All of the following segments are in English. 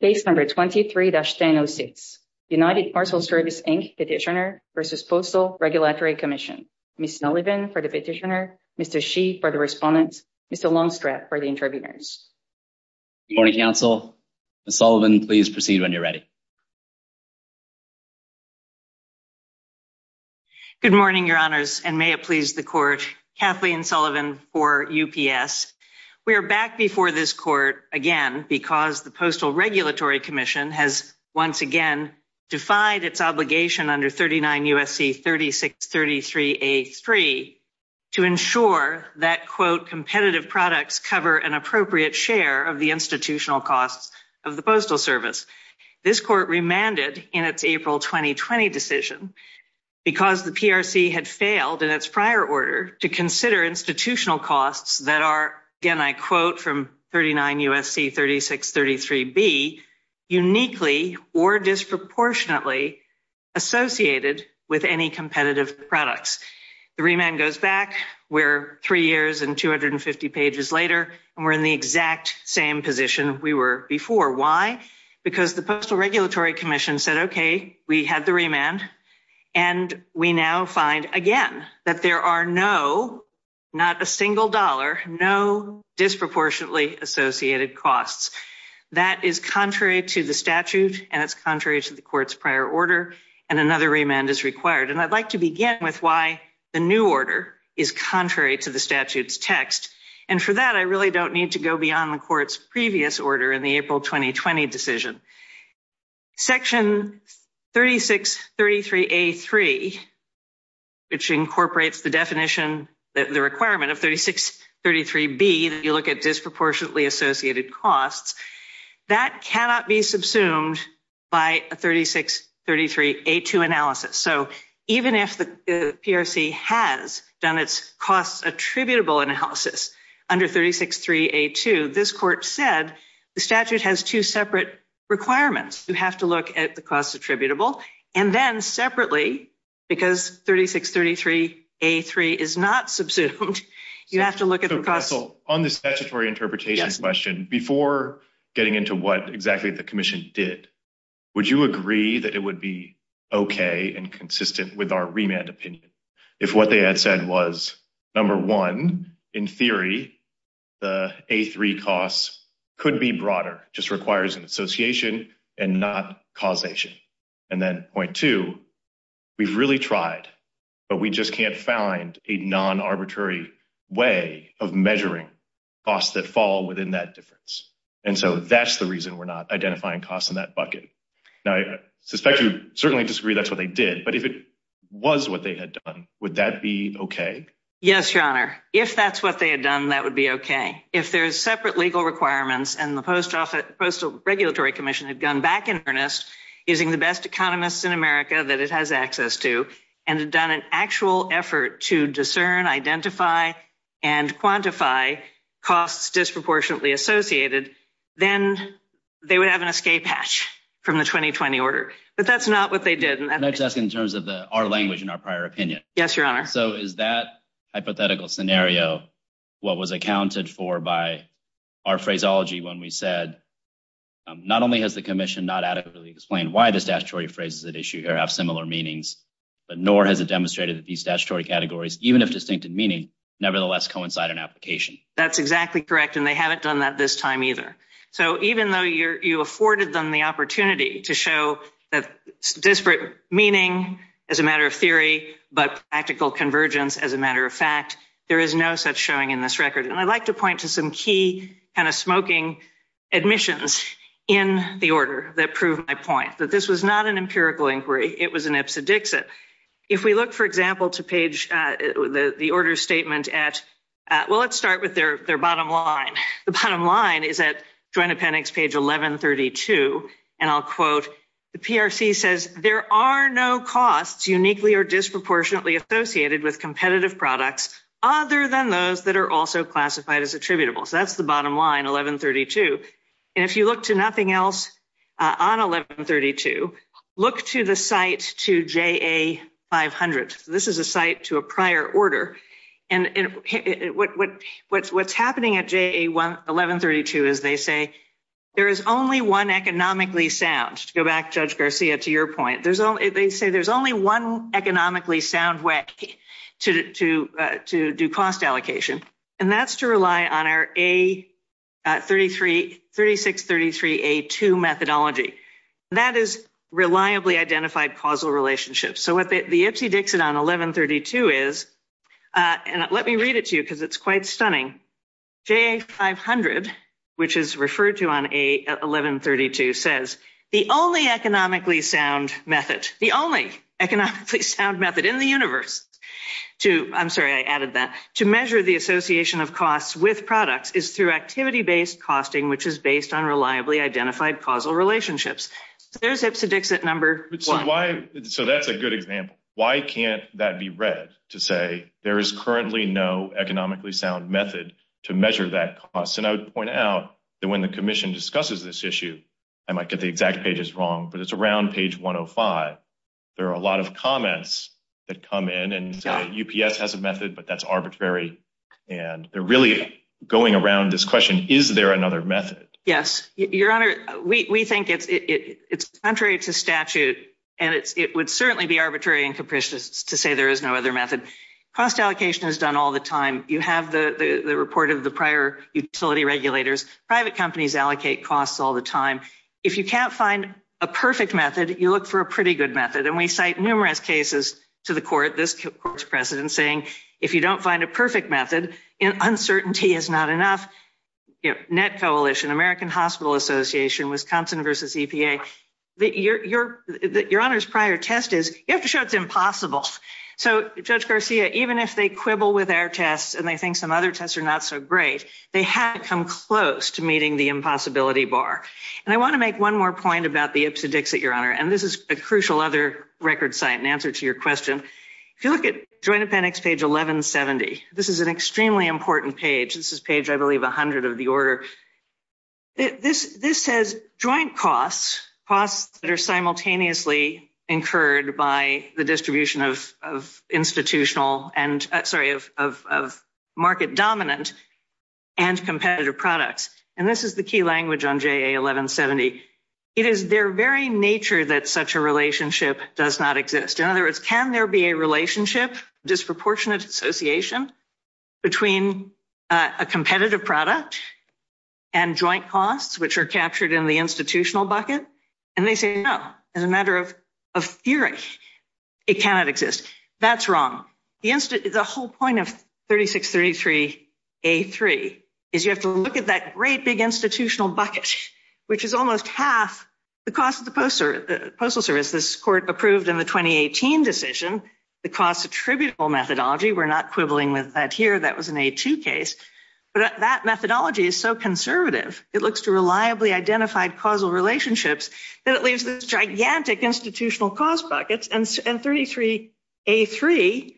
Page 23-1006 United Parcel Service, Inc. Petitioner v. Postal Regulatory Commission Ms. Sullivan for the Petitioner, Mr. Shi for the Respondent, Mr. Longstrap for the Intervenors. Good morning, Council. Ms. Sullivan, please proceed when you're ready. Good morning, Your Honors, and may it please the Court. Kathleen Sullivan for UPS. We are back before this Court again because the Postal Regulatory Commission has once again defied its obligation under 39 U.S.C. 3633A.3 to ensure that, quote, competitive products cover an appropriate share of the institutional costs of the Postal Service. This Court remanded in its April 2020 decision, because the PRC had failed in its prior order to consider institutional costs that are, again, I quote from 39 U.S.C. 3633B, uniquely or disproportionately associated with any competitive products. The remand goes back. We're three years and 250 pages later, and we're in the exact same position we were before. Why? Because the Postal Regulatory Commission said, okay, we had the remand, and we now find, again, that there are no, not a single dollar, no disproportionately associated costs. That is contrary to the statute, and it's contrary to the Court's prior order, and another remand is required. And I'd like to begin with why the new order is contrary to the statute's text. And for that, I really don't need to go beyond the Court's previous order in the April 2020 decision. Section 3633A.3, which incorporates the definition, the requirement of 3633B, that you look at disproportionately associated costs, that cannot be subsumed by a 3633A.2 analysis. So even if the PRC has done its cost attributable analysis under 3633A.2, this Court said the statute has two separate requirements. You have to look at the cost attributable, and then separately, because 3633A.3 is not subsumed, you have to look at the cost. So, on the statutory interpretation question, before getting into what exactly the Commission did, would you agree that it would be okay and number one, in theory, the A.3 costs could be broader, just requires an association and not causation? And then point two, we've really tried, but we just can't find a non-arbitrary way of measuring costs that fall within that difference. And so that's the reason we're not identifying costs in that bucket. Now, I suspect you certainly disagree that's what they did, but if it was what they had done, would that be okay? Yes, Your Honor. If that's what they had done, that would be okay. If there's separate legal requirements and the Postal Regulatory Commission had gone back in earnest, using the best economists in America that it has access to, and had done an actual effort to discern, identify, and quantify costs disproportionately associated, then they would have an escape hatch from the 2020 order. But that's not what they did. Can I just ask in our language and our prior opinion? Yes, Your Honor. So is that hypothetical scenario what was accounted for by our phraseology when we said, not only has the Commission not adequately explained why the statutory phrases at issue here have similar meanings, but nor has it demonstrated that these statutory categories, even if distinct in meaning, nevertheless coincide in application? That's exactly correct, and they haven't done that this time either. So even though you afforded them the opportunity to show that disparate meaning as a matter of theory, but practical convergence as a matter of fact, there is no such showing in this record. And I'd like to point to some key kind of smoking admissions in the order that prove my point, that this was not an empirical inquiry. It was an ipsodixit. If we look, for example, to page, the order statement at, well, let's start with their bottom line. The bottom line is at Joint Appendix page 1132. And I'll quote, the PRC says, there are no costs uniquely or disproportionately associated with competitive products other than those that are also classified as attributable. So that's the bottom line, 1132. And if you look to nothing else on 1132, look to the site to JA 500. This is a site to a prior order. And what's happening at JA 1132 is they say, there is only one economically sound, to go back, Judge Garcia, to your point. They say there's only one economically sound way to do cost allocation, and that's to rely on our A3633A2 methodology. That is reliably identified causal relationships. So what the ipsodixit on 1132 is, and let me read it to you because it's quite stunning. JA 500, which is referred to on 1132, says, the only economically sound method, the only economically sound method in the universe to, I'm sorry, I added that, to measure the association of costs with products is through activity-based costing, which is based on reliably identified causal relationships. There's ipsodixit number one. So that's a good example. Why can't that be read to say there is currently no economically sound method to measure that cost? And I would point out that when the commission discusses this issue, I might get the exact pages wrong, but it's around page 105. There are a lot of comments that come in and say UPS has a method, but that's arbitrary. And they're really going around this question, is there another method? Yes, your honor, we think it's contrary to statute and it would certainly be arbitrary and capricious to say there is no other method. Cost allocation is done all the time. You have the report of the prior utility regulators. Private companies allocate costs all the time. If you can't find a perfect method, you look for a pretty good method. And we cite numerous cases to the court, this court's president saying, if you don't find a perfect method, uncertainty is not enough. NET Coalition, American Hospital Association, Wisconsin versus EPA, your honor's prior test is, you have to show it's impossible. So Judge Garcia, even if they quibble with our tests and they think some other tests are not so great, they haven't come close to meeting the impossibility bar. And I want to make one more point about the ipsodixit, your honor, and this is a crucial other record site in answer to your question. If you look at Joint Appendix page 1170, this is an extremely important page. This is page, I believe, 100 of the order. This says joint costs, costs that are simultaneously incurred by the distribution of market dominant and competitive products. And this is the key language on JA 1170. It is their very nature that such a relationship does not exist. In other words, can there be a disproportionate association between a competitive product and joint costs, which are captured in the institutional bucket? And they say, no, as a matter of theory, it cannot exist. That's wrong. The whole point of 3633A3 is you have to look at that great big institutional bucket, which is almost half the cost of the Postal Service. This court approved in the 2018 decision, the cost attributable methodology. We're not quibbling with that here. That was an A2 case, but that methodology is so conservative. It looks to reliably identified causal relationships that it leaves this gigantic institutional cost buckets. And 33A3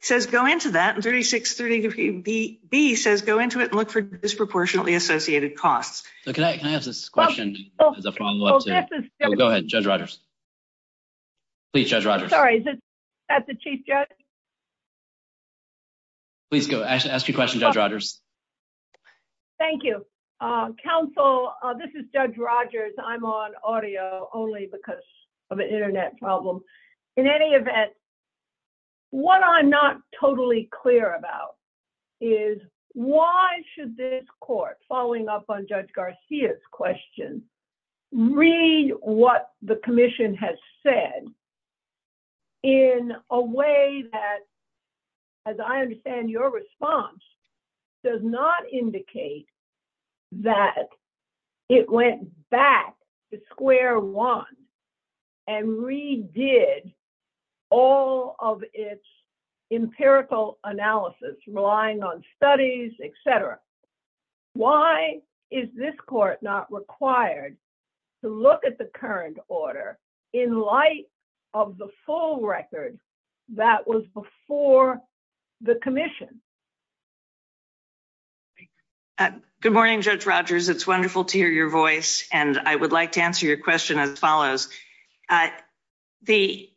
says go into that and 3633B says go into it and look for disproportionately associated costs. Can I ask this question as a follow up? Go ahead, Judge Rogers. Please, Judge Rogers. Sorry, is that the chief judge? Please go. Ask your question, Judge Rogers. Thank you. Counsel, this is Judge Rogers. I'm on audio only because of an internet problem. In any event, what I'm not totally clear about is why should this court, following up on Judge Garcia's question, read what the commission has said in a way that, as I understand your response, does not indicate that it went back to square one and redid all of its empirical analysis, relying on studies, etc. Why is this court not required to look at the current order in light of the full record that was before the commission? Good morning, Judge Rogers. It's wonderful to hear your voice. And I would like to answer your question as follows. The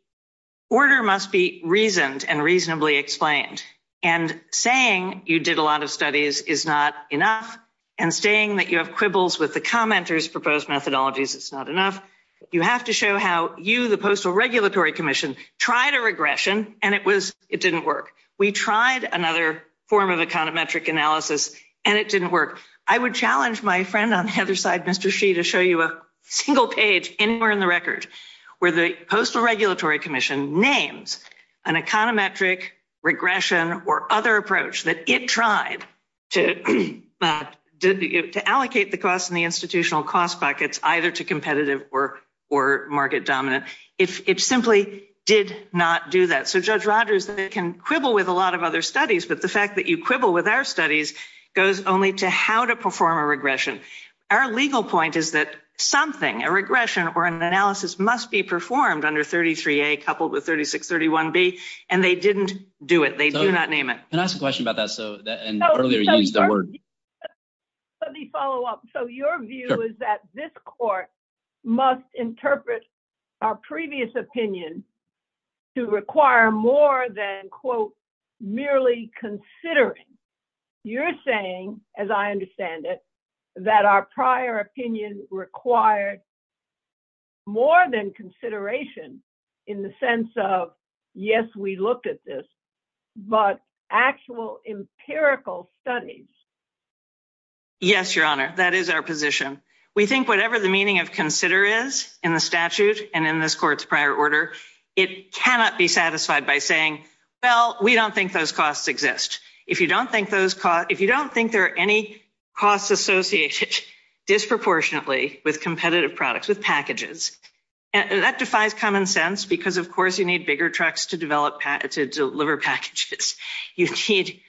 order must be reasoned and reasonably explained. And saying you did a lot of studies is not enough. And saying that you have quibbles with the commenter's proposed methodologies is not enough. You have to show how you, the Postal Regulatory Commission, tried a regression and it didn't work. We tried another form of econometric analysis and it didn't work. I would challenge my friend on the other side, Mr. Shi, to show you a page anywhere in the record where the Postal Regulatory Commission names an econometric regression or other approach that it tried to allocate the cost in the institutional cost buckets either to competitive or market dominant. It simply did not do that. So, Judge Rogers, they can quibble with a lot of other studies, but the fact that you quibble with our studies goes only to how to perform a regression. Our legal point is that something, a regression or an analysis must be performed under 33A coupled with 3631B and they didn't do it. They do not name it. Can I ask a question about that? So, and earlier you used the word. Let me follow up. So, your view is that this court must interpret our previous opinion to require more than, quote, considering. You're saying, as I understand it, that our prior opinion required more than consideration in the sense of, yes, we looked at this, but actual empirical studies. Yes, Your Honor, that is our position. We think whatever the meaning of consider is in the statute and in this court's prior order, it cannot be satisfied by saying, well, we don't think those costs exist. If you don't think there are any costs associated disproportionately with competitive products, with packages, that defies common sense because of course you need bigger trucks to deliver packages. You need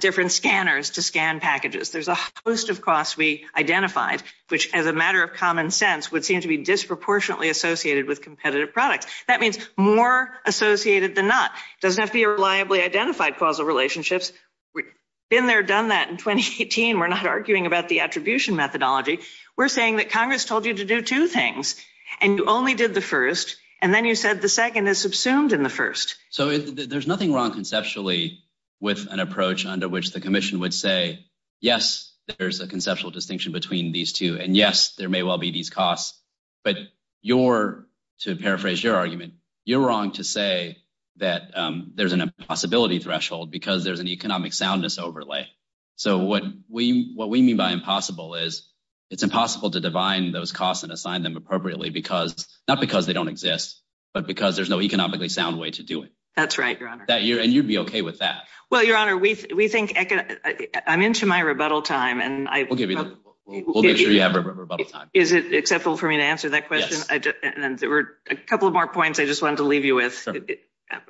different scanners to scan packages. There's a host of costs we identified, which as a matter of common sense would seem to be disproportionately associated with competitive products. That means more associated than not. It doesn't have to be a reliably identified causal relationships. We've been there, done that in 2018. We're not arguing about the attribution methodology. We're saying that Congress told you to do two things and you only did the first, and then you said the second is subsumed in the first. So, there's nothing wrong conceptually with an approach under which the commission would say, yes, there's a conceptual distinction between these two, and yes, there may well be these costs, but to paraphrase your argument, you're wrong to say that there's an impossibility threshold because there's an economic soundness overlay. So, what we mean by impossible is it's impossible to divine those costs and assign them appropriately, not because they don't exist, but because there's no economically sound way to do it. That's right, Your Honor. And you'd be okay with that. Well, Your Honor, I'm into my rebuttal time. Okay, we'll make sure you have rebuttal time. Is it acceptable for me to answer that question? Yes. And there were a couple of more points I just wanted to leave you with.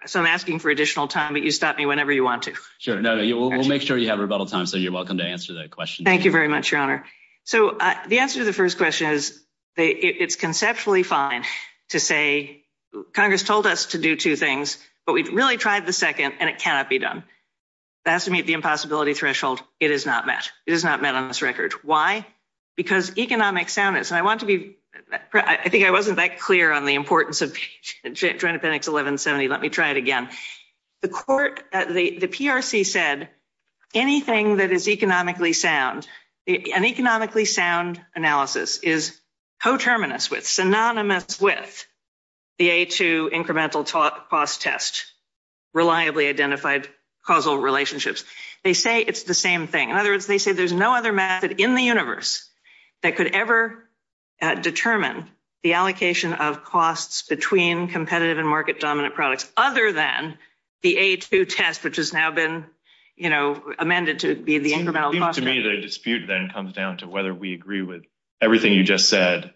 So, I'm asking for additional time, but you stop me whenever you want to. Sure. No, we'll make sure you have rebuttal time, so you're welcome to answer the question. Thank you very much, Your Honor. So, the answer to the first question is it's conceptually fine to say Congress told us to do two things, but we've really tried the second and it cannot be done. That's to meet the impossibility threshold. It is not met. It is not met on this record. Why? Because economic soundness, and I want to be, I think I wasn't that clear on the importance of Joint Appendix 1170. Let me try it again. The court, the PRC said anything that is economically sound, an economically sound analysis is coterminous with, synonymous with the A2 incremental cost test, reliably identified causal relationships. They say it's the same thing. In other words, they say there's no other method in the universe that could ever determine the allocation of costs between competitive and market-dominant products, other than the A2 test, which has now been, you know, amended to be the incremental cost. To me, the dispute then comes down to whether we agree with everything you just said,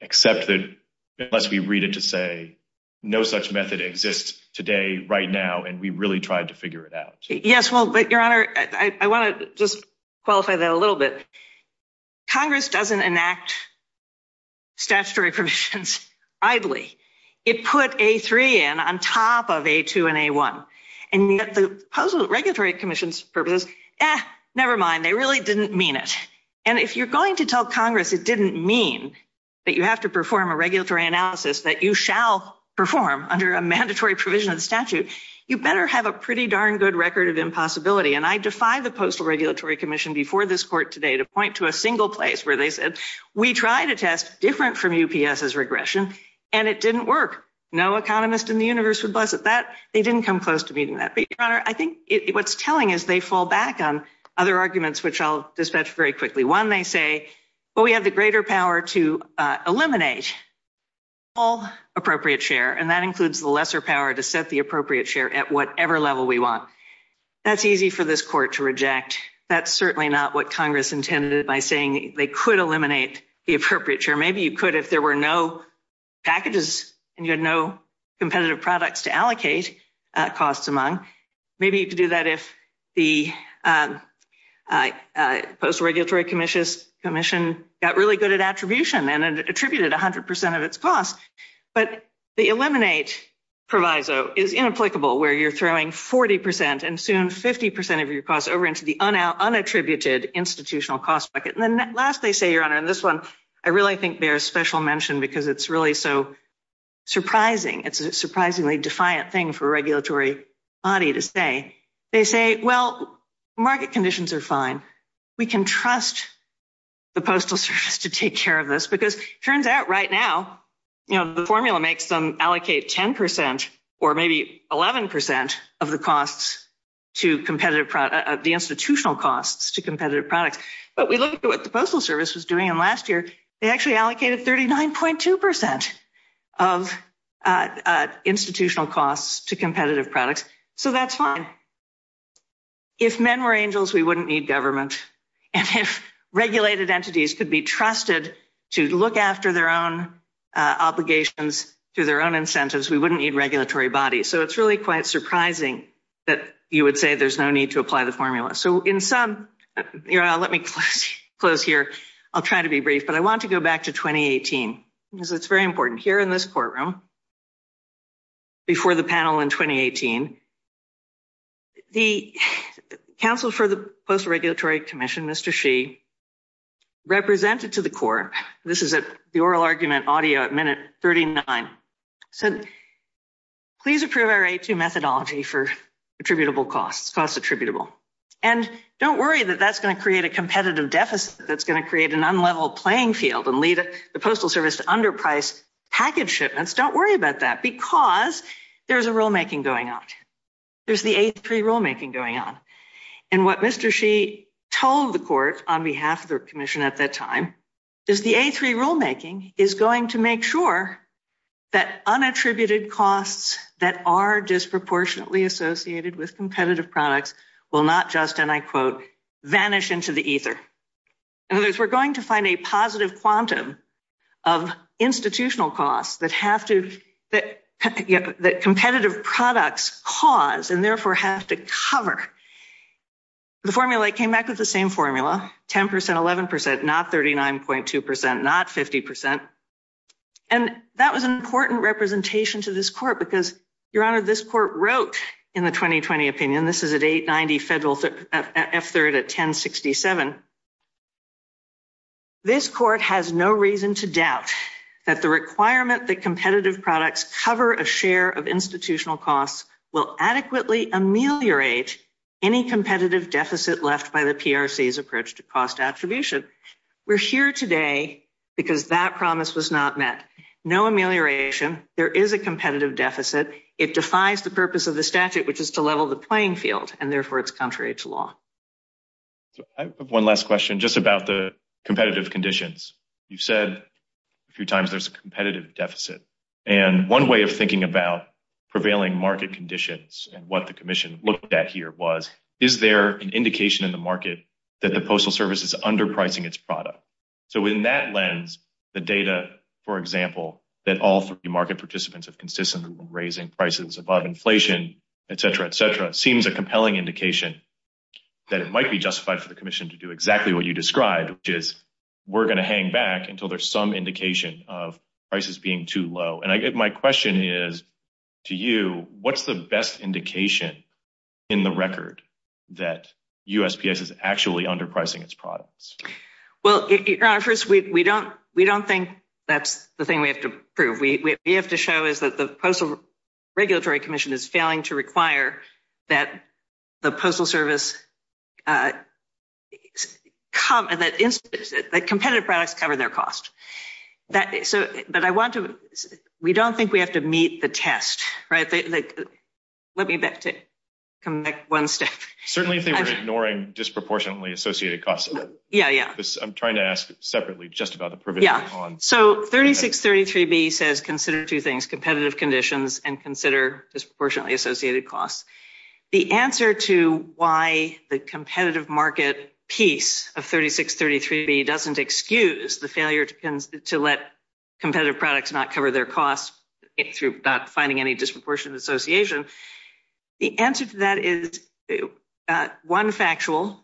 except that unless we read it to say no such method exists today, right now, and we really tried to figure it out. Yes, well, but Your Honor, I want to just qualify that a little bit. Congress doesn't enact statutory provisions idly. It put A3 in on top of A2 and A1, and yet the regulatory commission's purpose is, eh, never mind, they really didn't mean it. And if you're going to tell Congress it didn't mean that you have to perform a regulatory analysis that you shall perform under a mandatory provision of the statute, you better have a pretty darn good record of impossibility. And I defy the Postal Regulatory Commission before this court today to point to a single place where they said, we tried a test different from UPS's regression, and it didn't work. No economist in the universe would bless it. That, they didn't come close to meeting that. But Your Honor, I think what's telling is they fall back on other arguments, which I'll dispatch very quickly. One, they say, well, we have the greater power to eliminate all appropriate share, and that includes the lesser power to set the appropriate share at whatever level we want. That's easy for this court to reject. That's certainly not what Congress intended by saying they could eliminate the appropriate share. Maybe you could if there were no packages and you had no competitive products to allocate costs among. Maybe you could do that if the Postal Regulatory Commission got really good at attribution and attributed 100% of its costs. But the eliminate proviso is inapplicable where you're throwing 40% and soon 50% of your costs over into the unattributed institutional cost bucket. And then last, they say, Your Honor, and this one, I really think bears special mention because it's really so they say, well, market conditions are fine. We can trust the Postal Service to take care of this because it turns out right now, you know, the formula makes them allocate 10% or maybe 11% of the costs to competitive, the institutional costs to competitive products. But we look at what the Postal Service was doing in last year. They actually allocated 39.2% of institutional costs to competitive products. So that's fine. If men were angels, we wouldn't need government. And if regulated entities could be trusted to look after their own obligations through their own incentives, we wouldn't need regulatory bodies. So it's really quite surprising that you would say there's no need to apply the formula. So in some, let me close here. I'll try to be brief, but I want to go back to 2018 because it's very important here in this courtroom before the panel in 2018. The counsel for the Postal Regulatory Commission, Mr. Shee, represented to the court, this is at the oral argument audio at minute 39, said, please approve our A2 methodology for attributable costs, cost attributable. And don't worry that that's going to create a competitive deficit that's going to create an unlevel playing field and lead the Postal Service to underpriced package shipments. Don't worry about that because there's a rulemaking going on. There's the A3 rulemaking going on. And what Mr. Shee told the court on behalf of the commission at that time is the A3 rulemaking is going to make sure that unattributed costs that are disproportionately associated with competitive products will not just, and I quote, vanish into the ether. In other words, we're going to find a positive quantum of institutional costs that competitive products cause and therefore have to cover. The formula came back with the same formula, 10%, 11%, not 39.2%, not 50%. And that was an important representation to this court because, Your Honor, this court wrote in the 2020 opinion, this is at 890 Federal F3rd at 1067. This court has no reason to doubt that the requirement that competitive products cover a share of institutional costs will adequately ameliorate any competitive deficit left by the PRC's approach to cost attribution. We're here today because that promise was not met. No amelioration. There is a competitive deficit. It defies the purpose of the statute, which is to level the playing field, and therefore it's contrary to law. I have one last question just about the competitive conditions. You've said a few times there's a competitive deficit. And one way of thinking about prevailing market conditions and what the commission looked at here was, is there an indication in the market that the Postal Service is underpricing its product? So in that lens, the data, for example, that all three market participants have consistently raising prices above inflation, et cetera, et cetera, seems a compelling indication that it might be justified for the commission to do exactly what you described, which is, we're going to hang back until there's some indication of prices being too low. And my question is to you, what's the best indication in the record that USPS is actually underpricing its products? Well, Your Honor, first, we don't think that's the thing we have to prove. We have to show is that the Postal Regulatory Commission is failing to require that the Postal Service come and that the competitive products cover their cost. But I want to, we don't think we have to meet the test, right? Let me come back one step. Certainly if they were ignoring disproportionately associated costs. Yeah, yeah. I'm trying to ask separately, just about the provisions. Yeah. So 3633B says consider two things, competitive conditions and consider disproportionately associated costs. The answer to why the competitive market piece of 3633B doesn't excuse the failure to let competitive products not cover their costs through not finding any disproportionate association. The answer to that is one factual.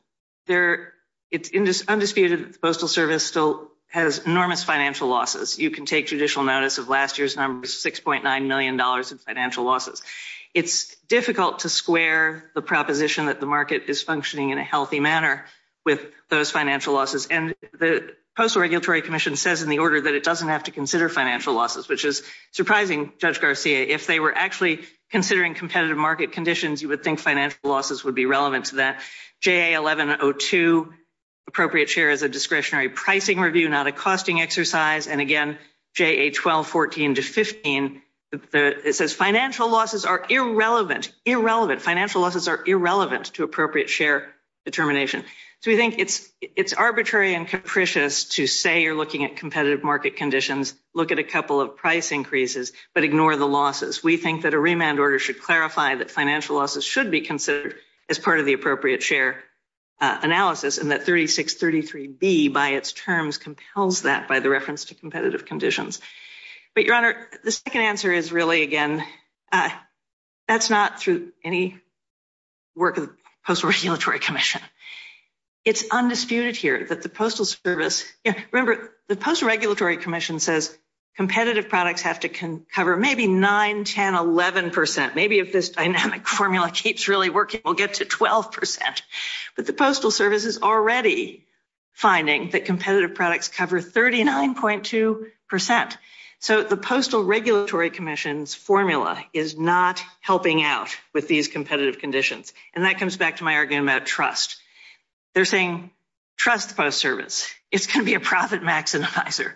It's undisputed that the Postal Service still has enormous financial losses. You can take judicial notice of last year's numbers, $6.9 million in financial losses. It's difficult to square the proposition that the market is functioning in a healthy manner with those financial losses. And the Postal Regulatory Commission says in the order that it doesn't have to consider financial losses, which is actually considering competitive market conditions, you would think financial losses would be relevant to that. JA1102, appropriate share as a discretionary pricing review, not a costing exercise. And again, JA1214-15, it says financial losses are irrelevant, irrelevant. Financial losses are irrelevant to appropriate share determination. So we think it's arbitrary and capricious to say you're looking at competitive market conditions, look at a couple of price increases, but ignore the losses. We think that a remand order should clarify that financial losses should be considered as part of the appropriate share analysis and that 3633B by its terms compels that by the reference to competitive conditions. But, Your Honor, the second answer is really, again, that's not through any work of the Postal Regulatory Commission. It's undisputed here that the Postal Service – remember, the Postal Regulatory Commission says competitive products have to cover maybe 9, 10, 11 percent. Maybe if this dynamic formula keeps really working, we'll get to 12 percent. But the Postal Service is already finding that competitive products cover 39.2 percent. So the Postal Regulatory Commission's formula is not helping out with these competitive conditions. And that comes back to my argument about trust. They're saying trust the Postal Service. It's going to be a profit maximizer.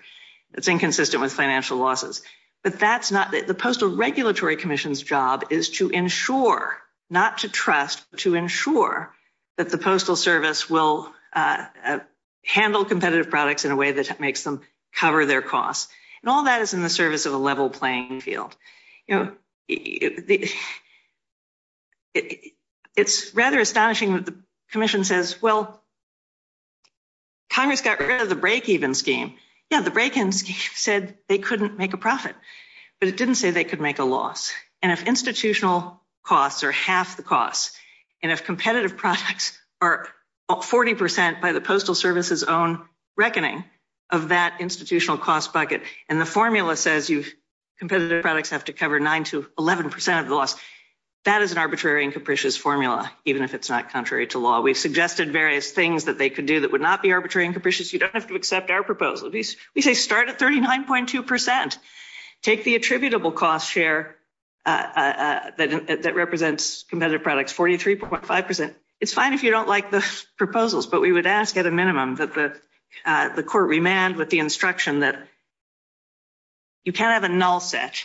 It's inconsistent with financial losses. But that's not – the Postal Regulatory Commission's job is to ensure, not to trust, but to ensure that the Postal Service will handle competitive products in a way that makes them cover their costs. And all that is in the service of a level playing field. It's rather astonishing that the commission says, well, Congress got rid of the break-even scheme. Yeah, the break-even scheme said they couldn't make a profit. But it didn't say they could make a loss. And if institutional costs are half the cost, and if competitive products are 40 percent by the Postal Service's own reckoning of that institutional cost bucket, and the formula says competitive products have to cover 9 to 11 percent of the loss, that is an arbitrary and capricious formula, even if it's not contrary to law. We've suggested various things that they could do that would not be arbitrary and capricious. You don't have to accept our proposal. We say start at 39.2 percent. Take the attributable cost share that represents competitive products, 43.5 percent. It's fine if you don't like the proposals, but we would ask at minimum that the court remand with the instruction that you can't have a null set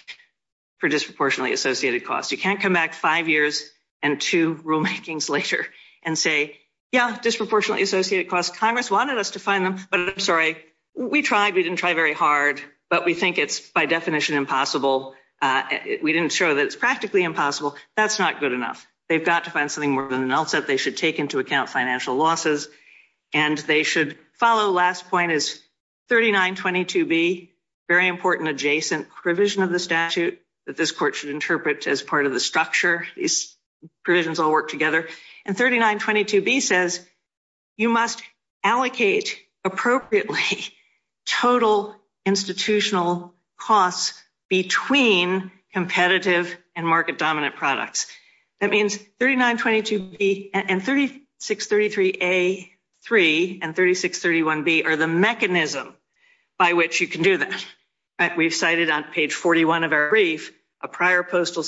for disproportionately associated costs. You can't come back five years and two rulemakings later and say, yeah, disproportionately associated costs, Congress wanted us to find them, but I'm sorry, we tried. We didn't try very hard, but we think it's by definition impossible. We didn't show that it's practically impossible. That's not good enough. They've got to find something more than a null losses, and they should follow last point is 3922B, very important adjacent provision of the statute that this court should interpret as part of the structure. These provisions all work together, and 3922B says you must allocate appropriately total institutional costs between competitive and market dominant products. That means 3922B and 3633A3 and 3631B are the mechanism by which you can do that. We've cited on page 41 of our brief a prior postal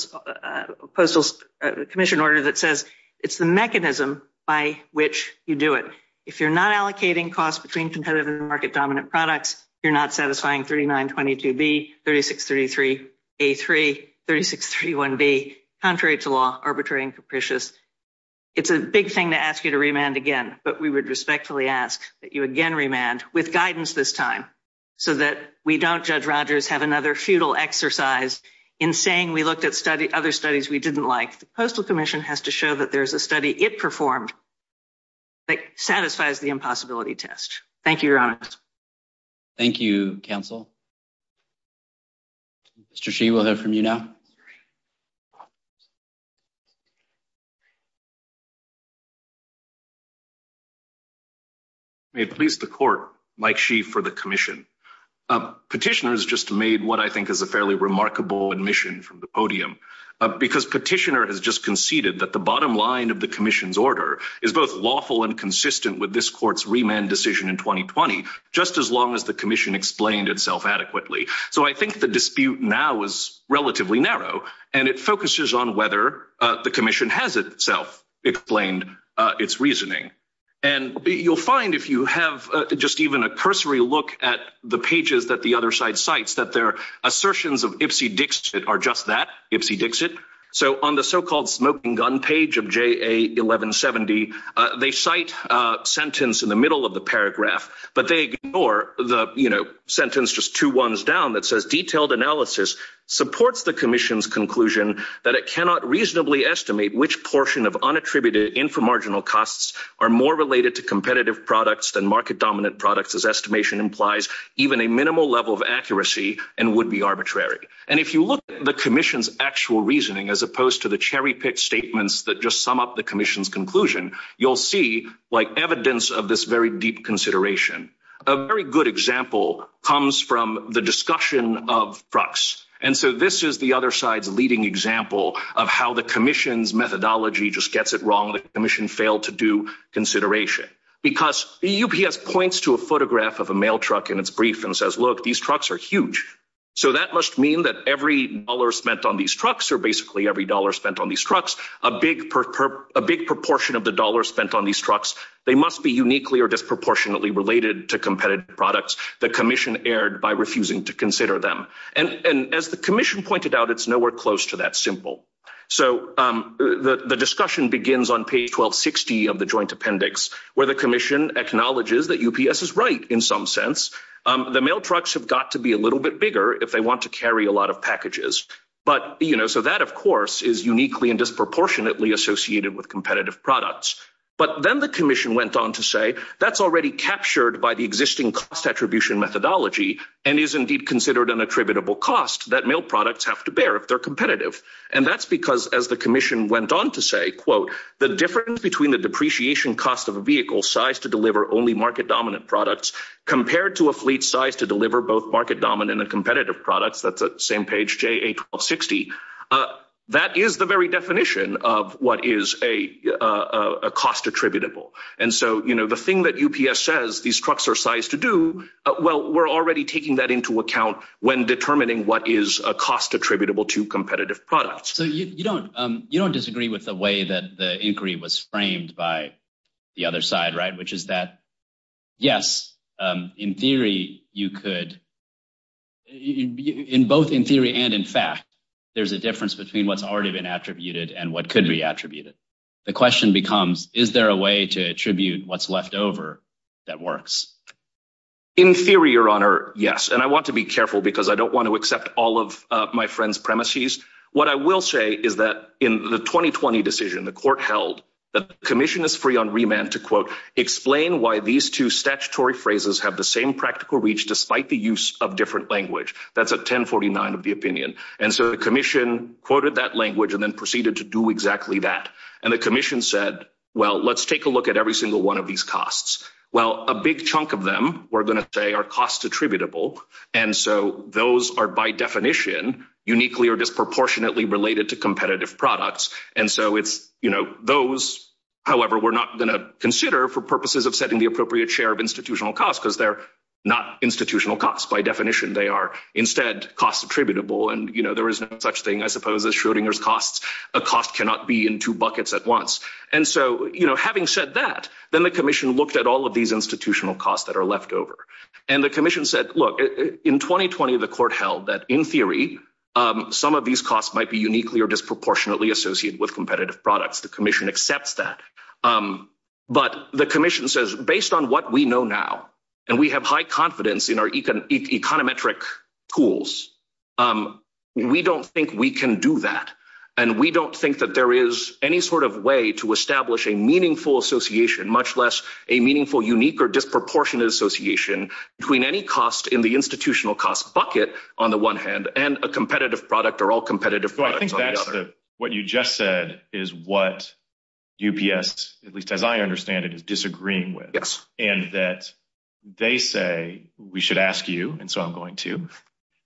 commission order that says it's the mechanism by which you do it. If you're not allocating costs between competitive and market dominant products, you're not satisfying 3922B, 3633A3, 3631B, contrary to law, arbitrary and capricious. It's a big thing to ask you to remand again, but we would respectfully ask that you again remand with guidance this time so that we don't, Judge Rogers, have another futile exercise in saying we looked at other studies we didn't like. The postal commission has to show there's a study it performed that satisfies the impossibility test. Thank you, Your Honor. Thank you, counsel. Mr. Shi, we'll hear from you now. May it please the court, Mike Shi for the commission. Petitioner has just made what I think is a fairly remarkable admission from the podium because petitioner has just conceded that bottom line of the commission's order is both lawful and consistent with this court's remand decision in 2020, just as long as the commission explained itself adequately. So I think the dispute now is relatively narrow, and it focuses on whether the commission has itself explained its reasoning. And you'll find if you have just even a cursory look at the pages that the other side cites that their assertions of Ipsy Dixit are just that, Ipsy Dixit. So on the so-called smoking gun page of J.A. 1170, they cite a sentence in the middle of the paragraph, but they ignore the, you know, sentence just two ones down that says detailed analysis supports the commission's conclusion that it cannot reasonably estimate which portion of unattributed inframarginal costs are more related to competitive products than market-dominant products as estimation implies even a minimal level of accuracy and would be arbitrary. And if you look at the commission's actual reasoning as opposed to the cherry-picked statements that just sum up the commission's conclusion, you'll see evidence of this very deep consideration. A very good example comes from the discussion of trucks. And so this is the other side's leading example of how the commission's methodology just gets it wrong, the commission failed to do consideration. Because UPS points to a photograph of a mail so that must mean that every dollar spent on these trucks or basically every dollar spent on these trucks, a big proportion of the dollar spent on these trucks, they must be uniquely or disproportionately related to competitive products. The commission erred by refusing to consider them. And as the commission pointed out, it's nowhere close to that simple. So the discussion begins on page 1260 of the joint appendix where the commission acknowledges that UPS is right in some sense. The mail trucks have got to be a little bit bigger if they want to carry a lot of packages. So that, of course, is uniquely and disproportionately associated with competitive products. But then the commission went on to say that's already captured by the existing cost attribution methodology and is indeed considered an attributable cost that mail products have to bear if they're competitive. And that's because as the commission went on to say, quote, the difference between the depreciation cost of a vehicle sized to deliver only market-dominant products compared to a fleet size to deliver both market-dominant and competitive products, that's the same page JA 1260, that is the very definition of what is a cost attributable. And so the thing that UPS says these trucks are sized to do, well, we're already taking that into account when determining what is a cost attributable to competitive products. So you don't disagree with the way that the inquiry was framed by the other side, right, which is that, yes, in theory, you could, both in theory and in fact, there's a difference between what's already been attributed and what could be attributed. The question becomes, is there a way to attribute what's left over that works? In theory, your honor, yes. And I want to be careful because I don't want to accept all of my friend's premises. What I will say is that in the 2020 decision, the court held that the commission is free on remand to, quote, explain why these two statutory phrases have the same practical reach despite the use of different language. That's a 1049 of the opinion. And so the commission quoted that language and then proceeded to do exactly that. And the commission said, well, let's take a look at every single one of these costs. Well, a big chunk of them we're going to say are cost attributable. And so those are by definition uniquely or disproportionately related to competitive products. And so it's, you know, those, however, we're not going to consider for purposes of setting the appropriate share of institutional costs because they're not institutional costs. By definition, they are instead cost attributable. And, you know, there is no such thing, I suppose, as Schrodinger's costs, a cost cannot be in two buckets at once. And so, you know, having said that, then the commission looked at all of these institutional costs that are left over. And the commission said, look, in 2020, the court held that in theory, some of these costs might be uniquely or disproportionately associated with competitive products. The commission accepts that. But the commission says, based on what we know now, and we have high confidence in our econometric tools, we don't think we can do that. And we don't think that there is any sort of way to establish a meaningful association, much less a meaningful, unique or disproportionate association between any cost in the institutional cost bucket, on the one hand, and a competitive product or all competitive products on the other. So I think that's the, what you just said is what UPS, at least as I understand it, is disagreeing with. Yes. And that they say, we should ask you, and so I'm going to,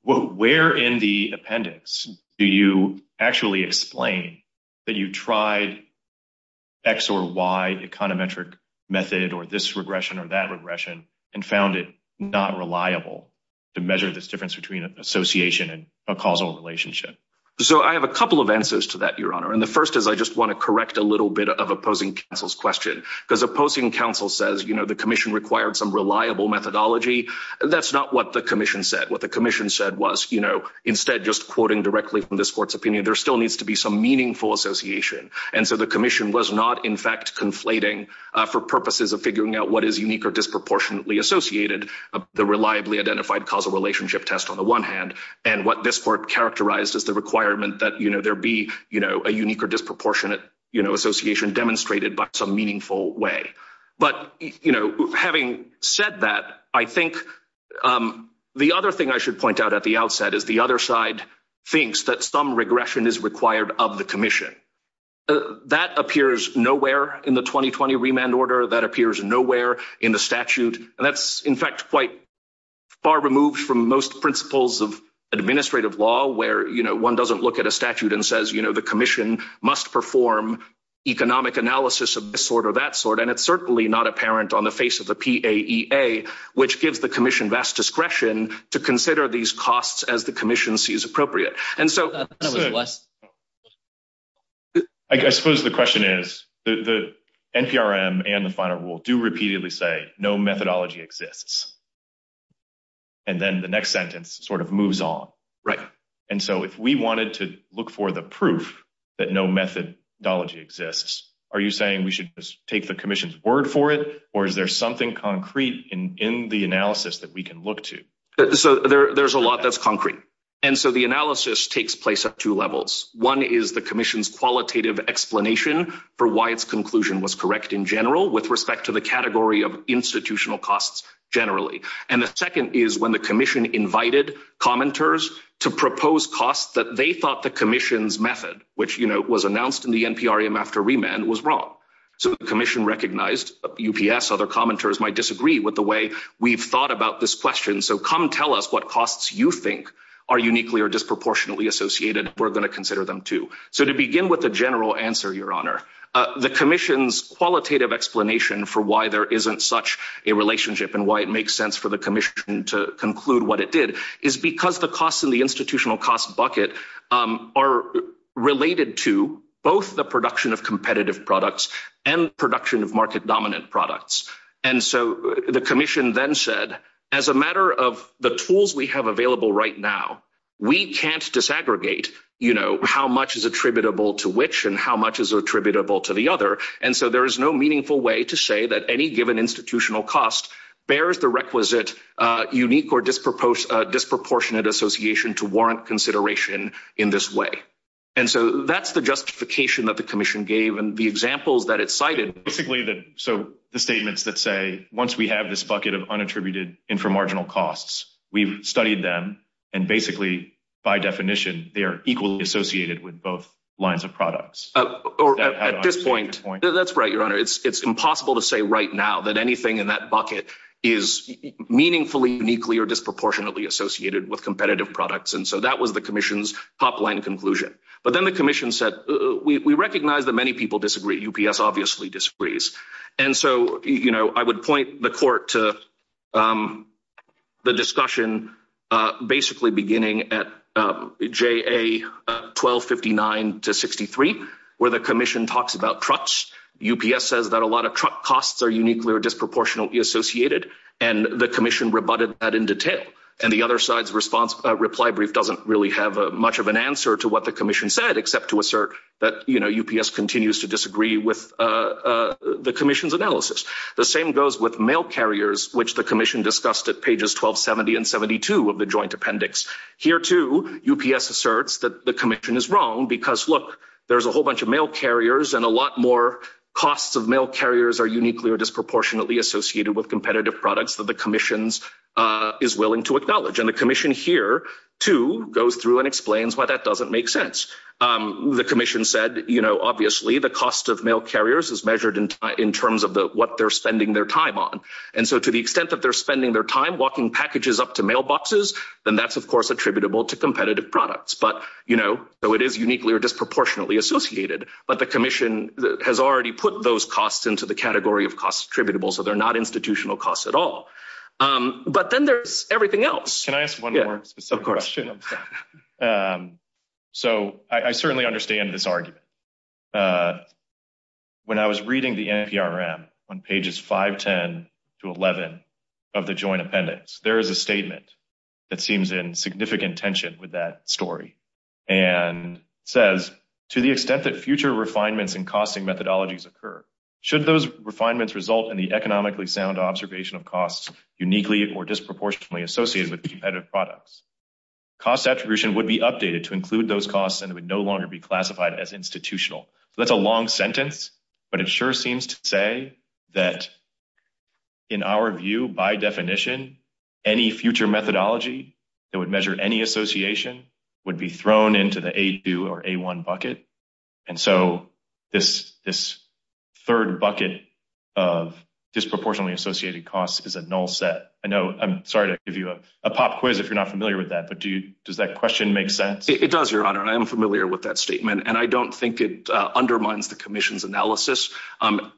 where in the appendix do you actually explain that you tried X or Y econometric method or this regression or that regression and found it not reliable to measure this difference between association and a causal relationship? So I have a couple of answers to that, Your Honor. And the first is I just want to correct a little bit of opposing counsel's question, because opposing counsel says, you know, the commission required some reliable methodology. That's not what the commission said. What the commission said was, you know, instead just quoting directly from this court's opinion, there still needs to be some meaningful association. And so the commission was not, in fact, conflating for purposes of figuring out what is unique or disproportionately associated, the reliably identified causal relationship test on the one hand, and what this court characterized as the requirement that, you know, there be, you know, a unique or disproportionate, you know, association demonstrated by some meaningful way. But, you know, having said that, I think the other thing I should point out at the outset is the other side thinks that some regression is required of the commission. That appears nowhere in the 2020 remand order. That appears nowhere in the statute. And that's, in fact, quite far removed from most principles of administrative law where, you know, one doesn't look at a statute and says, you know, the commission must perform economic analysis of this sort or that sort. And it's certainly not apparent on the face of the PAEA, which gives the commission vast discretion to consider these costs as the commission sees appropriate. And so I suppose the question is the NPRM and the final rule do repeatedly say no methodology exists. And then the next sentence sort of moves on. Right. And so if we wanted to look for the proof that no methodology exists, are you saying we should take the commission's word for it? Or is there something concrete in the analysis that we can look to? So there's a lot that's concrete. And so the analysis takes place at two levels. One is the commission's qualitative explanation for why its conclusion was correct in general with respect to the category of institutional costs generally. And the second is when the commission invited commenters to propose costs that they thought the commission's method, which, you know, was announced in the NPRM after remand, was wrong. So the commission recognized UPS, other commenters might disagree with the way we've thought about this question. So come tell us what costs you think are uniquely or disproportionately associated. We're going to consider them too. So to begin with the general answer, Your Honor, the commission's qualitative explanation for why there isn't such a relationship and why it makes sense for the commission to conclude what it did is because the costs in the institutional cost bucket are related to both the production of competitive products and production of market The tools we have available right now, we can't disaggregate, you know, how much is attributable to which and how much is attributable to the other. And so there is no meaningful way to say that any given institutional cost bears the requisite unique or disproportionate association to warrant consideration in this way. And so that's the justification that the commission gave and the examples that it cited. Basically, so the statements that say, once we have this bucket of unattributed inframarginal costs, we've studied them. And basically, by definition, they are equally associated with both lines of products. That's right, Your Honor. It's impossible to say right now that anything in that bucket is meaningfully uniquely or disproportionately associated with competitive products. And so that was the commission's top line conclusion. But then the commission said, we recognize that people disagree. UPS obviously disagrees. And so, you know, I would point the court to the discussion, basically beginning at JA 1259 to 63, where the commission talks about trucks. UPS says that a lot of truck costs are uniquely or disproportionately associated. And the commission rebutted that in detail. And the other side's response reply brief doesn't really have much of an answer to what the commission said, except to assert that, you know, UPS continues to disagree with the commission's analysis. The same goes with mail carriers, which the commission discussed at pages 1270 and 72 of the joint appendix. Here, too, UPS asserts that the commission is wrong because, look, there's a whole bunch of mail carriers and a lot more costs of mail carriers are uniquely or disproportionately associated with competitive products that the commission is willing to acknowledge. And the commission here, too, goes through and explains why that doesn't make sense. The commission said, you know, obviously, the cost of mail carriers is measured in terms of what they're spending their time on. And so, to the extent that they're spending their time walking packages up to mailboxes, then that's, of course, attributable to competitive products. But, you know, though it is uniquely or disproportionately associated, but the commission has already put those costs into the category of costs attributable, so they're not institutional costs at all. But then there's everything else. Can I ask one more specific question? So, I certainly understand this argument. When I was reading the NPRM on pages 510 to 11 of the joint appendix, there is a statement that seems in significant tension with that story and says, to the extent that future refinements and costing methodologies occur, should those refinements result in the economically sound observation of costs uniquely or disproportionately associated with competitive products, cost attribution would be updated to include those costs and would no longer be classified as institutional. So, that's a long sentence, but it sure seems to say that, in our view, by definition, any future methodology that would measure any association would be thrown into the bucket. And so, this third bucket of disproportionately associated costs is a null set. I know, I'm sorry to give you a pop quiz if you're not familiar with that, but does that question make sense? It does, Your Honor, and I am familiar with that statement. And I don't think it undermines the commission's analysis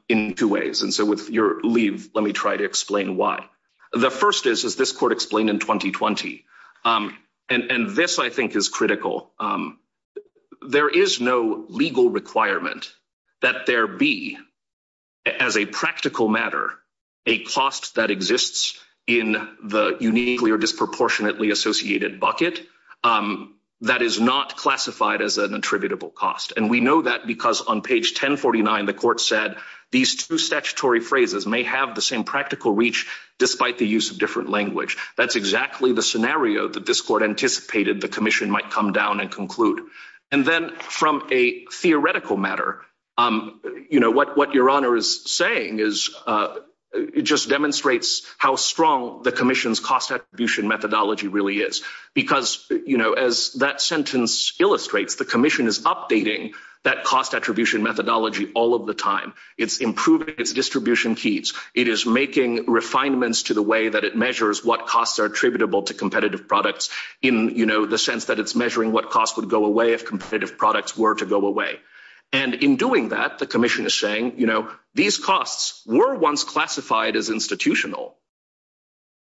in two ways. And so, with your leave, let me try to explain why. The first is, is this court explained in 2020, and this, I think, is critical. There is no legal requirement that there be, as a practical matter, a cost that exists in the uniquely or disproportionately associated bucket that is not classified as an attributable cost. And we know that because on page 1049, the court said these two statutory phrases may have the same practical reach despite the use of different language. That's exactly the scenario that this court anticipated the commission might come down and conclude. And then, from a theoretical matter, you know, what your Honor is saying is, it just demonstrates how strong the commission's cost attribution methodology really is. Because, you know, as that sentence illustrates, the commission is updating that cost attribution methodology all of the time. It's improving its distribution keys. It is making refinements to the way that it measures what costs are attributable to competitive products in, you know, the sense that it's measuring what costs would go away if competitive products were to go away. And in doing that, the commission is saying, you know, these costs were once classified as institutional,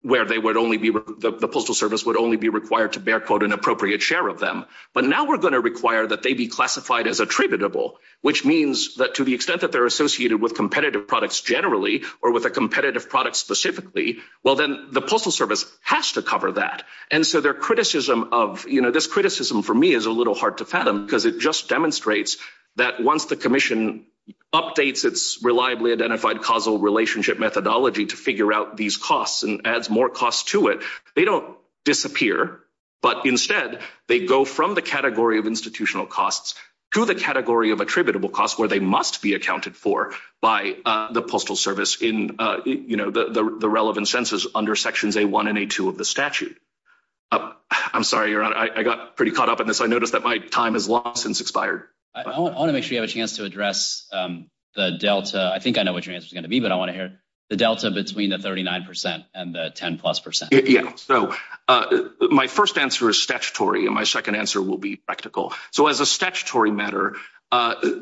where they would only be, the Postal Service would only be required to bear, quote, an appropriate share of them. But now we're going to require that they be classified as attributable, which means that to the extent that they're associated with competitive products generally or with a competitive product specifically, well, then the Postal Service has to cover that. And so their criticism of, you know, this criticism, for me, is a little hard to fathom because it just demonstrates that once the commission updates its reliably identified causal relationship methodology to figure out these costs and adds more costs to it, they don't disappear. But instead, they go from the category of institutional costs to the category of attributable costs where they must be accounted for by the Postal Service in, you know, the relevant census under Sections A1 and A2 of the statute. I'm sorry, Your Honor, I got pretty caught up in this. I noticed that my time has long since expired. I want to make sure you have a chance to address the delta. I think I know what your answer is going to be, but I want to hear the delta between the 39 percent and the 10 plus percent. Yeah. So my first answer is statutory, and my second answer will be practical. So as a statutory matter,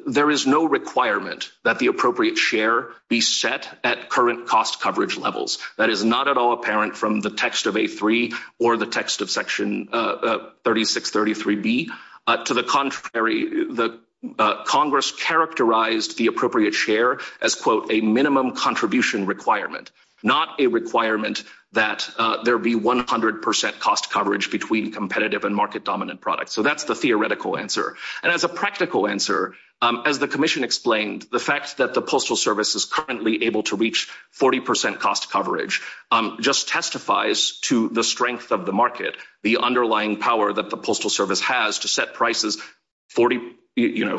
there is no requirement that the appropriate share be set at current cost coverage levels. That is not at all apparent from the text of A3 or the text of Section 3633B. To the contrary, Congress characterized the appropriate share as, quote, a minimum contribution requirement, not a requirement that there be 100 percent cost in product. So that's the theoretical answer. And as a practical answer, as the Commission explained, the fact that the Postal Service is currently able to reach 40 percent cost coverage just testifies to the strength of the market, the underlying power that the Postal Service has to set prices, you know,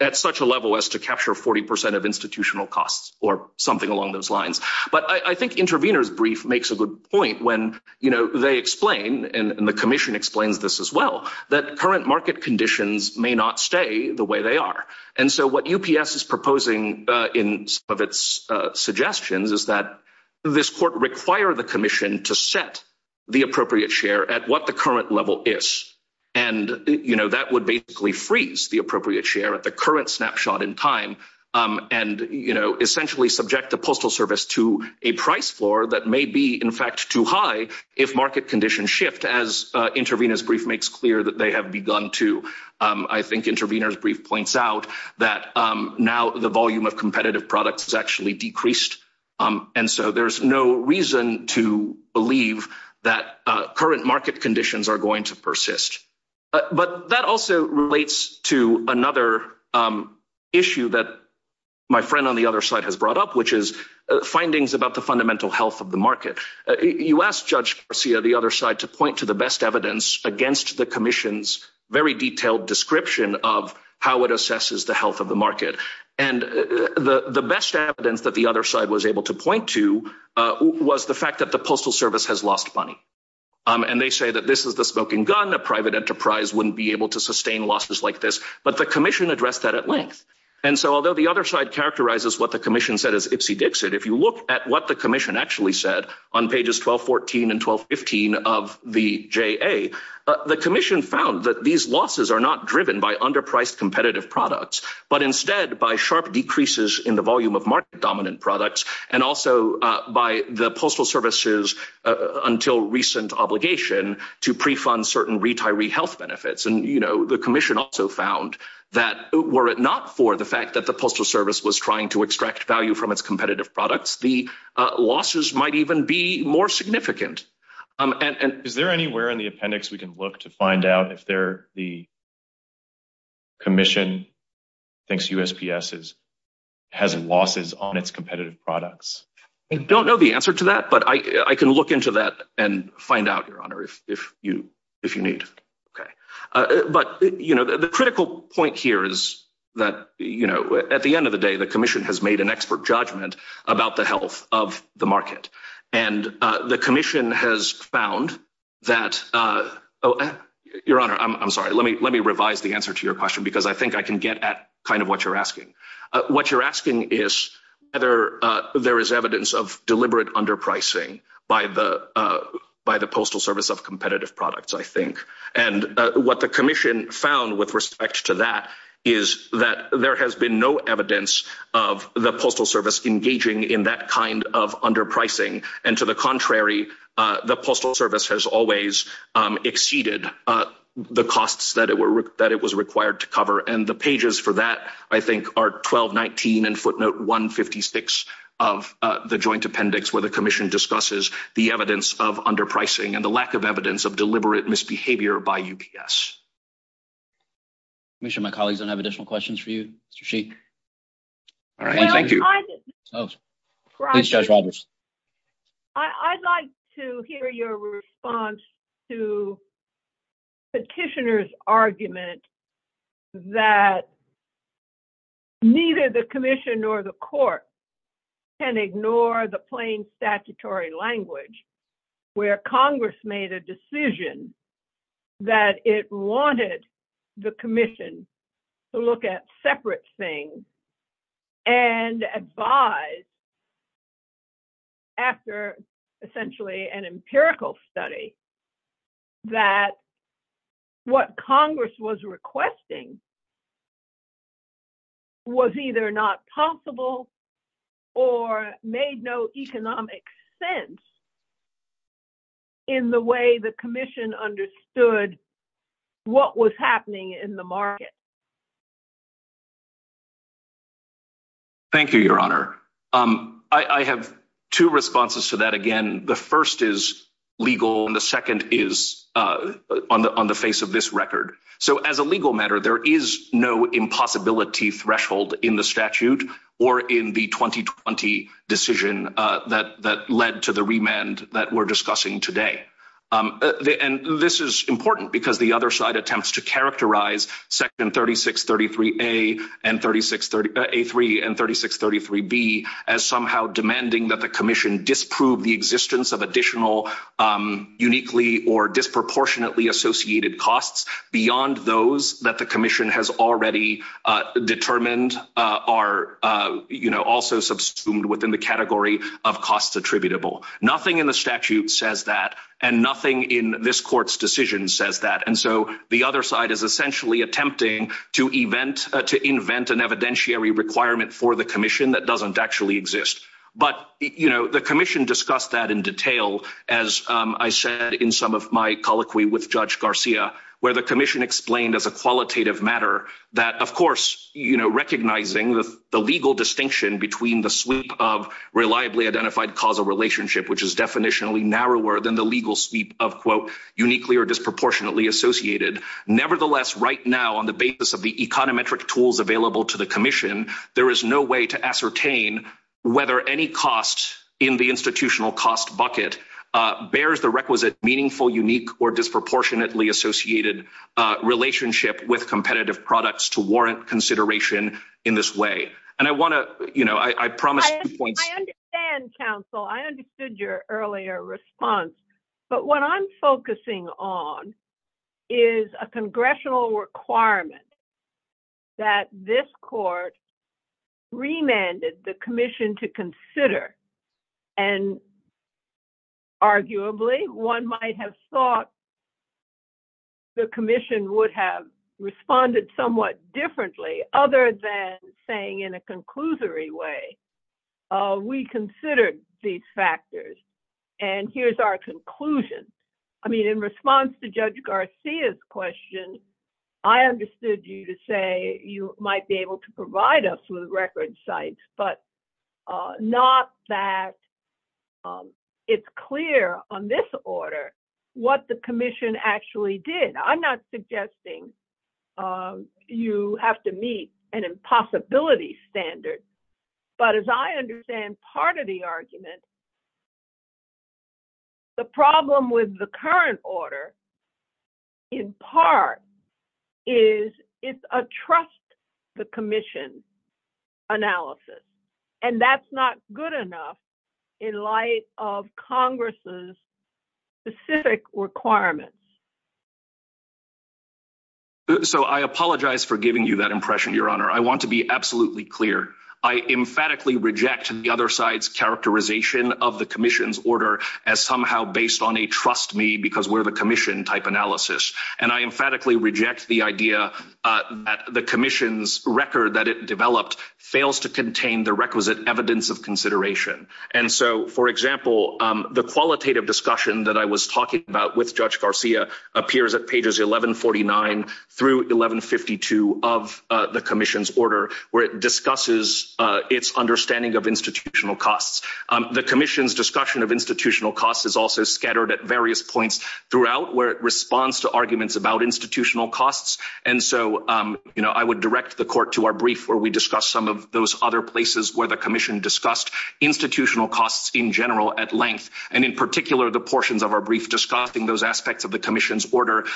at such a level as to capture 40 percent of institutional costs or something along those lines. But I think Intervenor's brief makes a good point when, you know, they explain, and the Commission explains this as well, that current market conditions may not stay the way they are. And so what UPS is proposing in some of its suggestions is that this court require the Commission to set the appropriate share at what the current level is. And, you know, that would basically freeze the appropriate share at the current snapshot in time and, you know, essentially subject the Postal Service to a price floor that may be, in fact, too high if market conditions shift, as Intervenor's brief makes clear that they have begun to. I think Intervenor's brief points out that now the volume of competitive products has actually decreased. And so there's no reason to believe that current market conditions are going to persist. But that also relates to another issue that my friend on the other side has brought up, which is findings about the fundamental health of the market. You asked Judge Garcia, the other side, to point to the best evidence against the Commission's very detailed description of how it assesses the health of the market. And the best evidence that the other side was able to point to was the fact that the Postal Service has lost money. And they say that this is the gun. A private enterprise wouldn't be able to sustain losses like this. But the Commission addressed that at length. And so although the other side characterizes what the Commission said as ipsy-dixit, if you look at what the Commission actually said on pages 1214 and 1215 of the JA, the Commission found that these losses are not driven by underpriced competitive products, but instead by sharp decreases in the volume of market-dominant products and also by the Postal Service's until-recent obligation to pre-fund certain retiree health benefits. And, you know, the Commission also found that were it not for the fact that the Postal Service was trying to extract value from its competitive products, the losses might even be more significant. Is there anywhere in the appendix we can look to find out if the Commission thinks I can look into that and find out, Your Honor, if you need. Okay. But, you know, the critical point here is that, you know, at the end of the day, the Commission has made an expert judgment about the health of the market. And the Commission has found that, Your Honor, I'm sorry. Let me revise the answer to your question, because I think I can get at kind of what you're asking. What you're asking is whether there is evidence of deliberate underpricing by the Postal Service of competitive products, I think. And what the Commission found with respect to that is that there has been no evidence of the Postal Service engaging in that kind of underpricing. And to the contrary, the Postal Service has always exceeded the costs that it was required to cover. And the 1219 and footnote 156 of the joint appendix where the Commission discusses the evidence of underpricing and the lack of evidence of deliberate misbehavior by UPS. Let me make sure my colleagues don't have additional questions for you, Mr. Sheik. All right. Thank you. I'd like to hear your response to Petitioner's argument that neither the Commission nor the court can ignore the plain statutory language, where Congress made a decision that it wanted the Commission to look at separate things and advise after essentially an empirical study that what Congress was requesting was either not possible or made no economic sense in the way the Commission understood what was happening in the market. Thank you, Your Honor. I have two responses to that. Again, the first is legal, and the second is on the face of this record. So as a legal matter, there is no impossibility threshold in the statute or in the 2020 decision that led to the remand that we're discussing today. And this is important because the other side attempts to characterize Section 3633A and 3633B as somehow demanding that the Commission disprove the existence of additional uniquely or disproportionately associated costs beyond those that the Commission has already determined are also subsumed within the category of costs attributable. Nothing in the statute says that, and nothing in this court's decision says that. And so the other side is essentially attempting to invent an evidentiary requirement for the Commission that doesn't actually exist. But the Commission discussed that in detail, as I said in some of my colloquy with Judge Garcia, where the Commission explained as a qualitative matter that, of course, recognizing the legal distinction between the sweep of definitionally narrower than the legal sweep of uniquely or disproportionately associated, nevertheless, right now, on the basis of the econometric tools available to the Commission, there is no way to ascertain whether any cost in the institutional cost bucket bears the requisite meaningful, unique, or disproportionately associated relationship with competitive products to warrant consideration in this way. And I want to, you know, I promised points. I understand, counsel, I understood your earlier response. But what I'm focusing on is a congressional requirement that this court remanded the Commission to consider. And arguably, one might have thought the Commission would have responded somewhat differently, other than saying in a conclusory way, we considered these factors. And here's our conclusion. I mean, in response to Judge Garcia's question, I understood you to say you might be able to provide us with record sites, but not that it's clear on this order, what the Commission actually did. I'm not suggesting you have to meet an impossibility standard. But as I understand part of the argument, the problem with the current order, in part, is it's a trust the Commission analysis. And that's not good enough in light of Congress's specific requirements. So, I apologize for giving you that impression, Your Honor. I want to be absolutely clear. I emphatically reject the other side's characterization of the Commission's order as somehow based on a trust me because we're the Commission type analysis. And I emphatically reject the idea that the Commission's record that it developed fails to contain the requisite evidence of consideration. And so, for example, the qualitative discussion that I was talking about with Judge Garcia appears at pages 1149 through 1152 of the Commission's order, where it discusses its understanding of institutional costs. The Commission's discussion of institutional costs is also scattered at various points throughout where it responds to arguments about institutional costs. And so, you know, I would direct the Court to our brief where we discuss some of those other places where the Commission discussed institutional costs in general at length, and in particular, the portions of our brief discussing those aspects of the Commission's order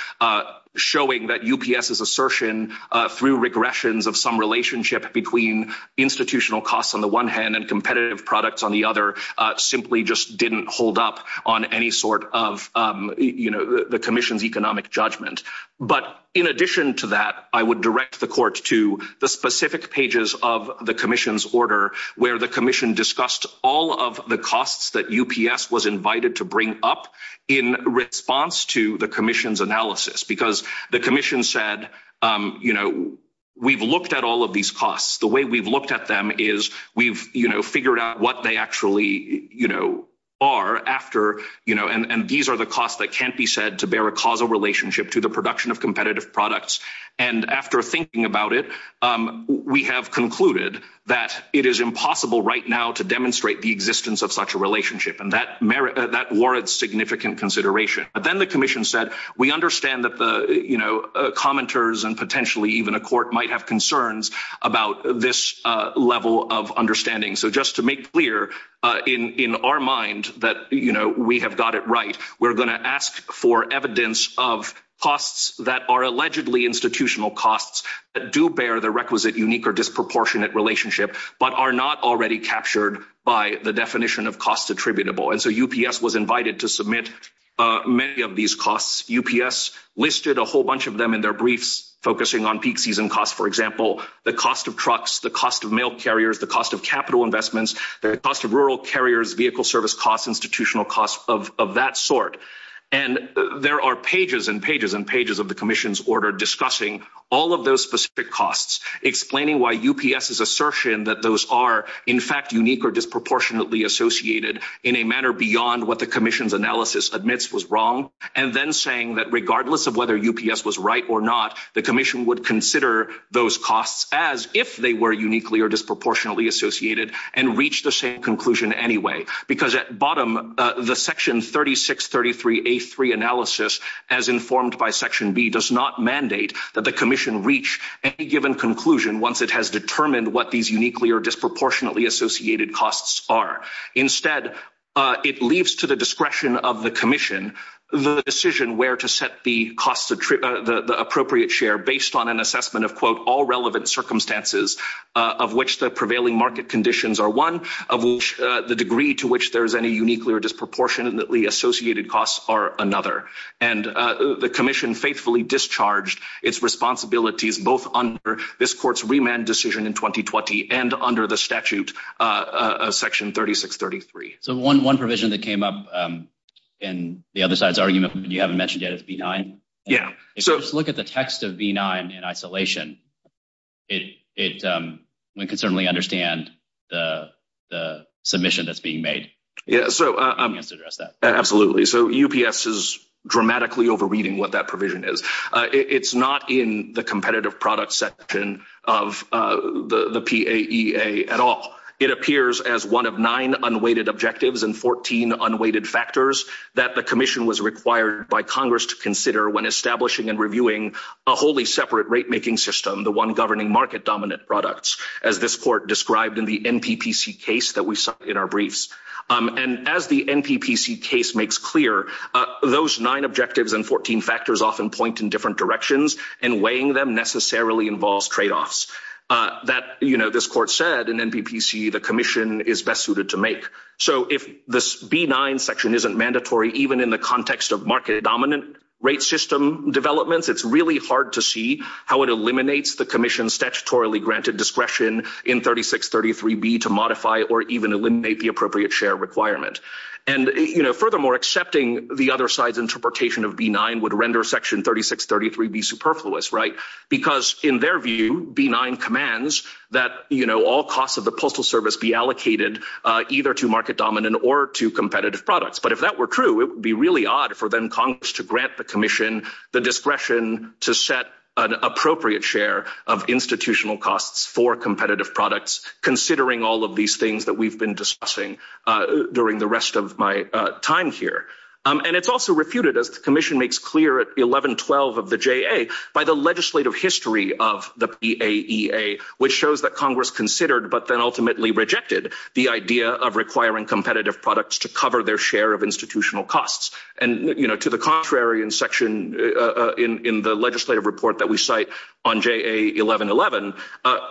showing that UPS's assertion through regressions of some relationship between institutional costs on the one hand and competitive products on the other simply just didn't hold up on any sort of, you know, the Commission's economic judgment. But in addition to that, I would direct the Court to the specific pages of the Commission's order where the Commission discussed all of the costs that UPS was invited to bring up in response to the Commission's analysis, because the Commission said, you know, we've looked at all of these costs. The way we've looked at them is we've, you know, figured out what they actually, you know, are after, you know, and these are the costs that can't be said to bear a causal relationship to the production of competitive products. And after thinking about it, we have concluded that it is impossible right now to demonstrate the existence of such a relationship, and that warrants significant consideration. But then the Commission said, we understand that the, you know, commenters and potentially even a Court might have concerns about this level of understanding. So just to make clear in our mind that, you know, we have got it right, we're going to ask for evidence of costs that are allegedly institutional costs that do bear the requisite unique or disproportionate relationship, but are not already captured by the definition of costs attributable. And so UPS was invited to submit many of these costs. UPS listed a whole bunch of them in their briefs, focusing on peak season costs, for example, the cost of trucks, the cost of mail carriers, the cost of capital investments, the cost of rural carriers, vehicle service costs, institutional costs of that sort. And there are pages and pages and pages of the Commission's order discussing all of those specific costs, explaining why UPS's assertion that those are, in fact, unique or disproportionately associated in a manner beyond what the Commission's analysis admits was wrong, and then saying that regardless of whether UPS was right or not, the Commission would consider those costs as if they were uniquely or disproportionately associated and reach the same conclusion anyway. Because at bottom, the Section 3633A3 analysis, as informed by Section B, does not mandate that the Commission reach any given conclusion once it has determined what these uniquely or disproportionately associated costs are. Instead, it leaves to the discretion of the Commission the decision where to set the appropriate share based on an assessment of, quote, all relevant circumstances of which the are one, of which the degree to which there is any uniquely or disproportionately associated costs are another. And the Commission faithfully discharged its responsibilities both under this Court's remand decision in 2020 and under the statute of Section 3633. So one provision that came up in the other side's argument, you haven't mentioned yet, is B9. If you just look at the text of B9 in isolation, it, we can certainly understand the submission that's being made. Yeah, so, absolutely. So UPS is dramatically overreading what that provision is. It's not in the competitive product section of the PAEA at all. It appears as one of nine unweighted objectives and 14 unweighted factors that the Commission was required by Congress to one governing market-dominant products, as this Court described in the NPPC case that we saw in our briefs. And as the NPPC case makes clear, those nine objectives and 14 factors often point in different directions, and weighing them necessarily involves tradeoffs that, you know, this Court said in NPPC the Commission is best suited to make. So if this B9 section isn't mandatory even in the context of market-dominant rate system developments, it's really hard to see how it eliminates the Commission's statutorily granted discretion in 3633B to modify or even eliminate the appropriate share requirement. And, you know, furthermore, accepting the other side's interpretation of B9 would render section 3633B superfluous, right? Because in their view, B9 commands that, you know, all costs of the Postal Service be allocated either to market-dominant or to competitive products. But if that were true, it would be really odd for then Congress to grant the Commission the discretion to set an appropriate share of institutional costs for competitive products, considering all of these things that we've been discussing during the rest of my time here. And it's also refuted, as the Commission makes clear at 1112 of the JA, by the legislative history of the PAEA, which shows that Congress considered but then ultimately rejected the idea of requiring competitive products to cover their share of institutional costs. And, you know, to the contrary, in section, in the legislative report that we cite on JA 1111,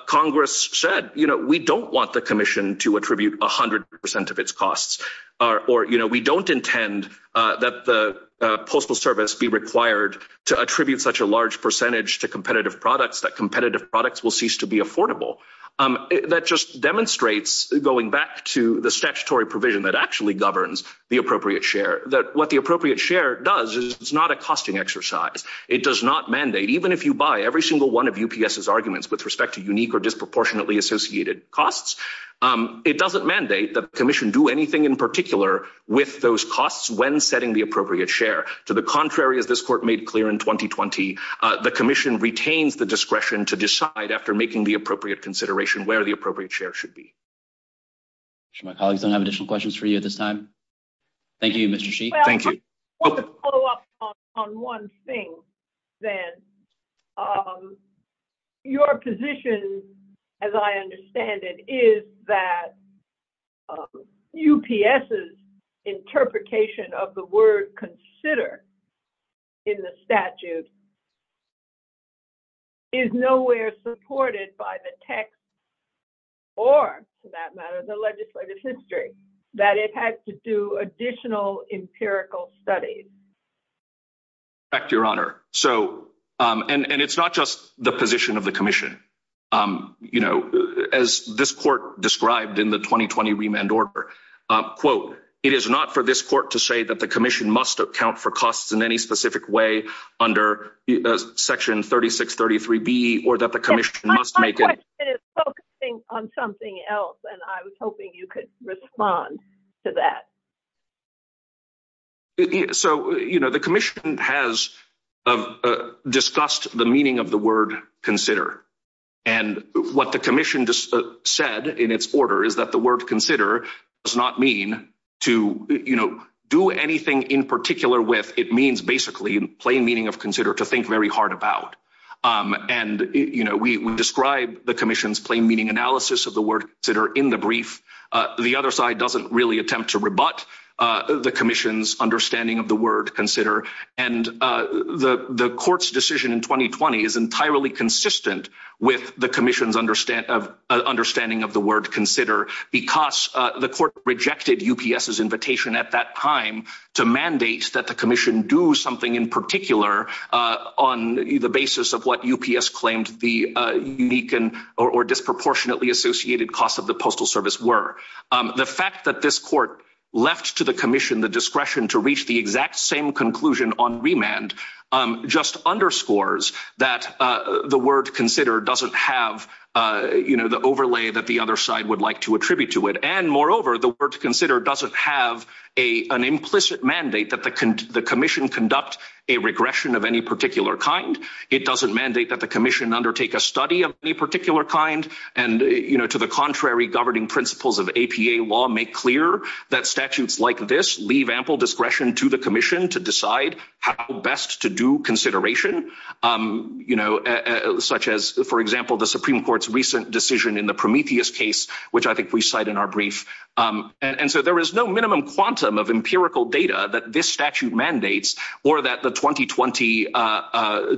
Congress said, you know, we don't want the Commission to attribute 100% of its costs, or, you know, we don't intend that the Postal Service be required to attribute such a large percentage to competitive products, that competitive products will cease to be affordable. That just demonstrates, going back to the statutory provision that actually governs the appropriate share, that what the appropriate share does is it's not a costing exercise. It does not mandate, even if you buy every single one of UPS's arguments with respect to unique or disproportionately associated costs, it doesn't mandate that the Commission do anything in particular with those costs when setting the appropriate share. To the contrary, as this Court made clear in 2020, the Commission retains the discretion to decide after making the appropriate consideration where the appropriate share should be. I'm sure my colleagues don't have additional questions for you at this time. Thank you, Mr. Sheehy. Thank you. Well, I want to follow up on one thing, then. Your position, as I understand it, is that UPS's interpretation of the word consider in the statute is nowhere supported by the text or, for that matter, the legislative history, that it had to do additional empirical studies. Back to your Honor. And it's not just the position of the Commission. As this Court described in the 2020 remand order, quote, it is not for this Court to say that the Commission must account for costs in any specific way under Section 3633B or that the Commission must make it… My question is focusing on something else, and I was hoping you could respond to that. So, you know, the Commission has discussed the meaning of the word consider. And what the Commission said in its order is that word consider does not mean to, you know, do anything in particular with. It means basically plain meaning of consider to think very hard about. And, you know, we describe the Commission's plain meaning analysis of the word consider in the brief. The other side doesn't really attempt to rebut the Commission's understanding of the word consider. And the Court's decision in 2020 is entirely consistent with the Commission's understanding of the word consider because the Court rejected UPS's invitation at that time to mandate that the Commission do something in particular on the basis of what UPS claimed the unique or disproportionately associated costs of the Postal Service were. The fact that this Court left to the Commission the discretion to reach the exact same conclusion on remand just underscores that the word consider doesn't have, you know, the overlay that the other side would like to attribute to it. And, moreover, the word consider doesn't have an implicit mandate that the Commission conduct a regression of any particular kind. It doesn't mandate that the Commission undertake a study of any particular kind. And, you know, to the contrary, governing principles of APA law make clear that statutes like this leave ample discretion to the Commission to decide how best to do consideration, you know, such as, for example, the Supreme Court's recent decision in the Prometheus case, which I think we cite in our brief. And so there is no minimum quantum of empirical data that this statute mandates or that the 2020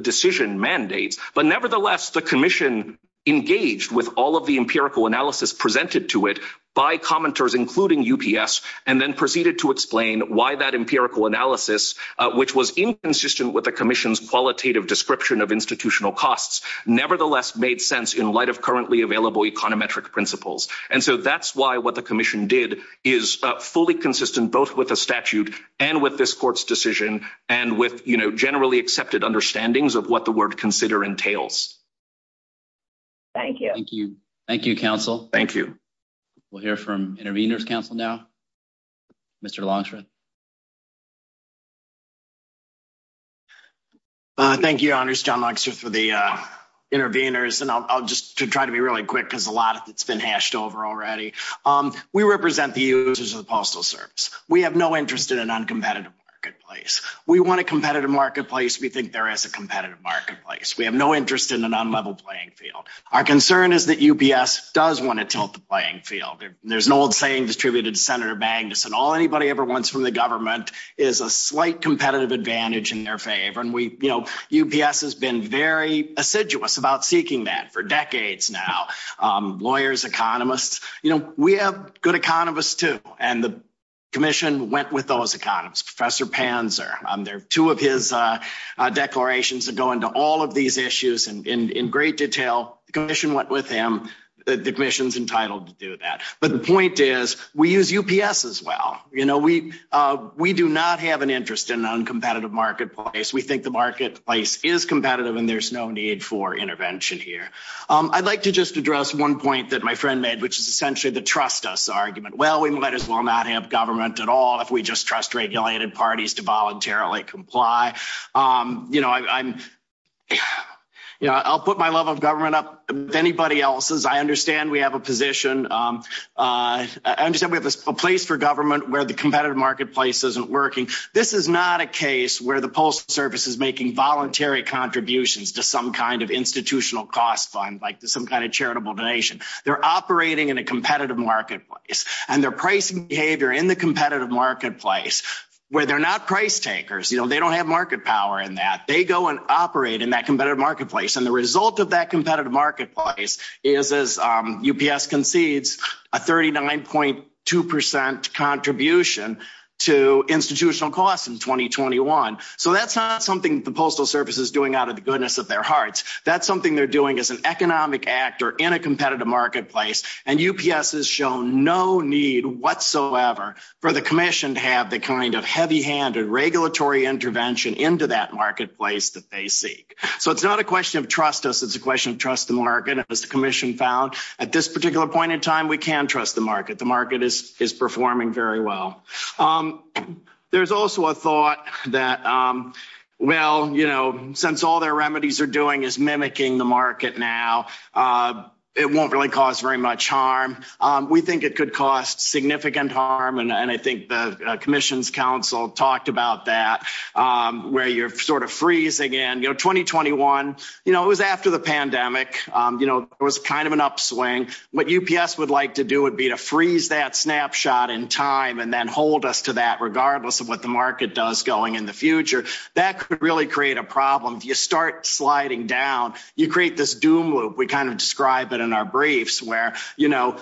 decision mandates. But, nevertheless, the Commission engaged with all of the empirical analysis presented to it by commenters, including UPS, and then proceeded to explain why that empirical analysis, which was inconsistent with the Commission's qualitative description of institutional costs, nevertheless made sense in light of currently available econometric principles. And so that's why what the Commission did is fully consistent both with the statute and with this Court's decision and with, you know, generally accepted understandings of what the word consider entails. Thank you. Thank you. Thank you, Counsel. Thank you. We'll hear from Intervenors Counsel now. Mr. Longstreet. Thank you, Honors, John Longstreet for the Intervenors. And I'll just try to be really quick because a lot of it's been hashed over already. We represent the users of the Postal Service. We have no interest in an uncompetitive marketplace. We want a competitive marketplace. We think there is a competitive marketplace. We have no interest in an on-level playing field. Our concern is that UPS does want to tilt the playing field. There's an old saying distributed to Senator Magnuson, all anybody ever wants from the government is a slight competitive advantage in their favor. And we, you know, UPS has been very assiduous about seeking that for decades now. Lawyers, economists, you know, we have good economists too. And the Commission went with those economists. Professor Panzer, there are two of his declarations that go into all of these issues in great detail. The Commission went with him. The Commission's entitled to do that. But the point is we use UPS as well. You know, we do not have an interest in an uncompetitive marketplace. We think the marketplace is competitive and there's no need for intervention here. I'd like to just address one point that my friend made, which is essentially the trust us argument. Well, we might as well not have government at all if we just trust regulated parties to voluntarily comply. You know, I'm, you know, I'll put my level of government up with anybody else's. I understand we have a position, I understand we have a place for government where the competitive marketplace isn't working. This is not a case where the Postal Service is making voluntary contributions to some kind of institutional cost fund, like some kind of charitable donation. They're operating in a competitive marketplace and their pricing behavior in the competitive marketplace where they're not price takers. You know, they don't have market power in that. They go and operate in that competitive marketplace. And the result of that competitive marketplace is, as UPS concedes, a 39.2 percent contribution to institutional costs in 2021. So that's not something the Postal Service is doing out of the goodness of their hearts. That's something they're doing as an economic actor in a competitive marketplace. And UPS has shown no need whatsoever for the Commission to have the kind of heavy-handed regulatory intervention into that marketplace that they seek. So it's not a question of trust us, it's a question of trust the market, as the Commission found. At this particular point in time, we can trust the market. The market is performing very well. There's also a thought that, well, you know, since all their remedies are doing is mimicking the market now, it won't really cause very much harm. We think it could cause significant harm, and I think the Commission's counsel talked about that, where you're sort of freezing in. You know, 2021, you know, it was after the pandemic, you know, it was kind of an upswing. What UPS would like to do would be to freeze that snapshot in time and then hold us to that, regardless of what the market does going in the future. That could really create a problem. If you start sliding down, you create this doom loop. We kind of describe it in our briefs, where, you know,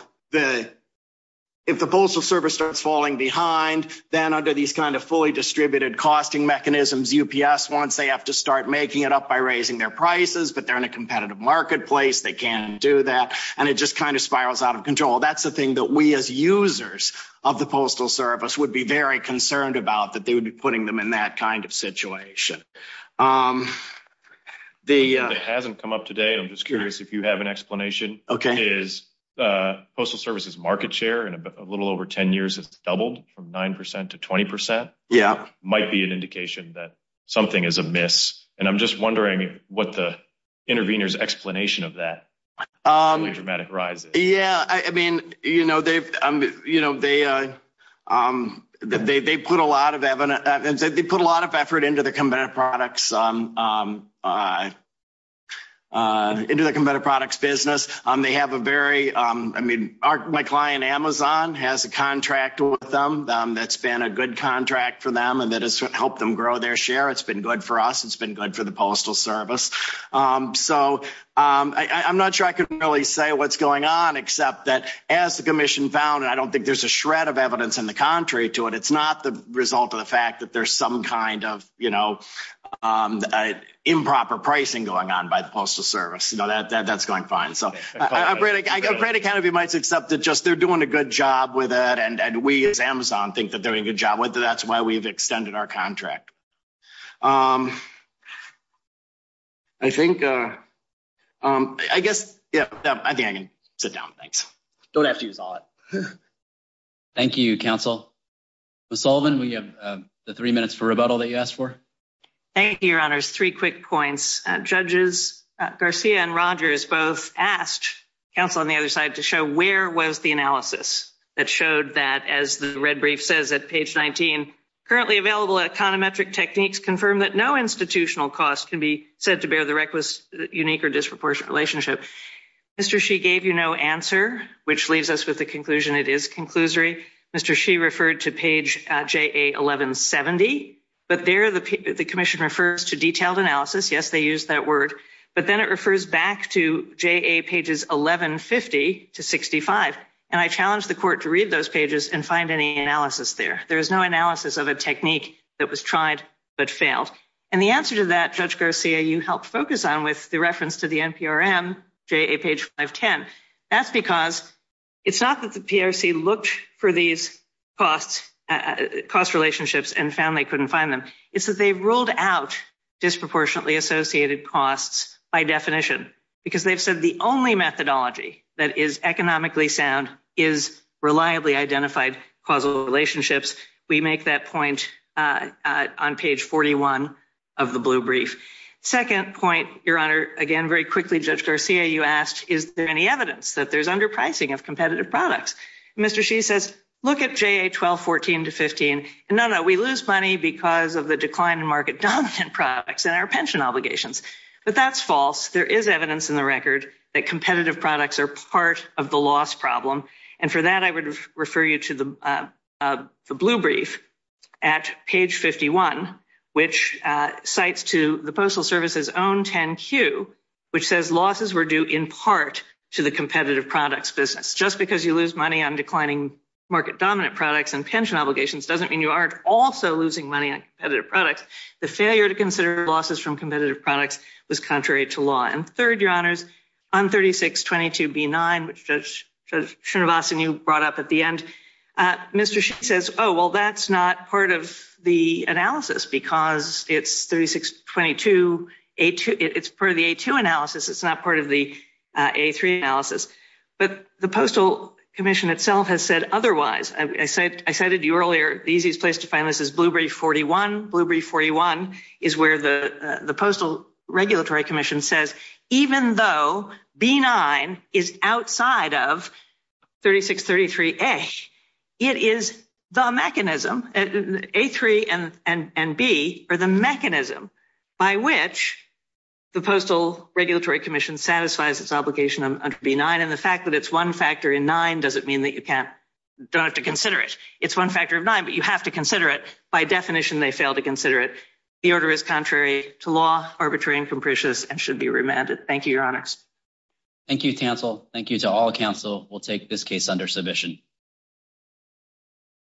if the Postal Service starts falling behind, then under these kind of fully distributed costing mechanisms, UPS wants they have to start making it up by raising their prices, but they're in a competitive marketplace, they can't do that, and it just kind of spirals out of control. That's the thing that we as users of the Postal Service would be very concerned about, that they would be putting them in that kind of situation. It hasn't come up today, and I'm just curious if you have an explanation. Okay. Is the Postal Service's market share in a little over 10 years has doubled from 9% to 20%? Yeah. Might be an indication that something is amiss, and I'm just wondering what the intervener's explanation of that dramatic rise is. Yeah, I mean, you know, they put a lot of effort into the competitive products business. They have a very, I mean, my client Amazon has a contract with them that's been a good contract for them and that has helped them grow their share. It's been good for us. It's been good for the Postal Service. So, I'm not sure I can really say what's going on, except that as the Commission found, and I don't think there's a shred of the fact that there's some kind of, you know, improper pricing going on by the Postal Service, you know, that's going fine. So, I'm pretty kind of, you might accept that just they're doing a good job with it, and we as Amazon think that they're doing a good job with it. That's why we've extended our contract. I think, I guess, yeah, I think I can sit down. Thanks. Don't have to. Thank you, counsel. Ms. Sullivan, we have the three minutes for rebuttal that you asked for. Thank you, your honors. Three quick points. Judges Garcia and Rogers both asked counsel on the other side to show where was the analysis that showed that, as the red brief says at page 19, currently available econometric techniques confirm that no institutional cost can be said to bear the unique or disproportionate relationship. Mr. She gave you no answer, which leaves us with the conclusion it is conclusory. Mr. She referred to page JA 1170, but there the Commission refers to detailed analysis. Yes, they use that word, but then it refers back to JA pages 1150 to 65, and I challenge the court to read those pages and find any analysis there. There is no analysis of a with the reference to the NPRM, JA page 510. That's because it's not that the PRC looked for these costs, cost relationships, and found they couldn't find them. It's that they've ruled out disproportionately associated costs by definition, because they've said the only methodology that is economically sound is reliably identified causal relationships. We make that point on page 41 of the blue brief. Second point, Your Honor, again, very quickly, Judge Garcia, you asked, is there any evidence that there's underpricing of competitive products? Mr. She says, look at JA 1214 to 15, and no, no, we lose money because of the decline in market dominant products and our pension obligations, but that's false. There is evidence in the record that competitive products are part of the loss problem, and for that, I would refer you to the blue brief at page 51, which cites to the Postal Service's own 10Q, which says losses were due in part to the competitive products business. Just because you lose money on declining market dominant products and pension obligations doesn't mean you aren't also losing money on competitive products. The failure to consider losses from competitive products was contrary to law. And third, Your Honors, on 3622B9, which Judge Srinivasan, you brought up at the end, Mr. She says, oh, well, that's not of the analysis because it's 3622A2, it's part of the A2 analysis, it's not part of the A3 analysis. But the Postal Commission itself has said otherwise. I cited you earlier, the easiest place to find this is Blue Brief 41. Blue Brief 41 is where the Postal Regulatory Commission says, even though B9 is outside of 3633A, it is the mechanism, A3 and B are the mechanism by which the Postal Regulatory Commission satisfies its obligation under B9, and the fact that it's one factor in nine doesn't mean that you don't have to consider it. It's one factor of nine, but you have to consider it. By definition, they fail to consider it. The order is contrary to law, arbitrary and capricious, and should be remanded. Thank you, Your Honors. Thank you, Tansel. Thank you to all counsel. We'll take this case under submission.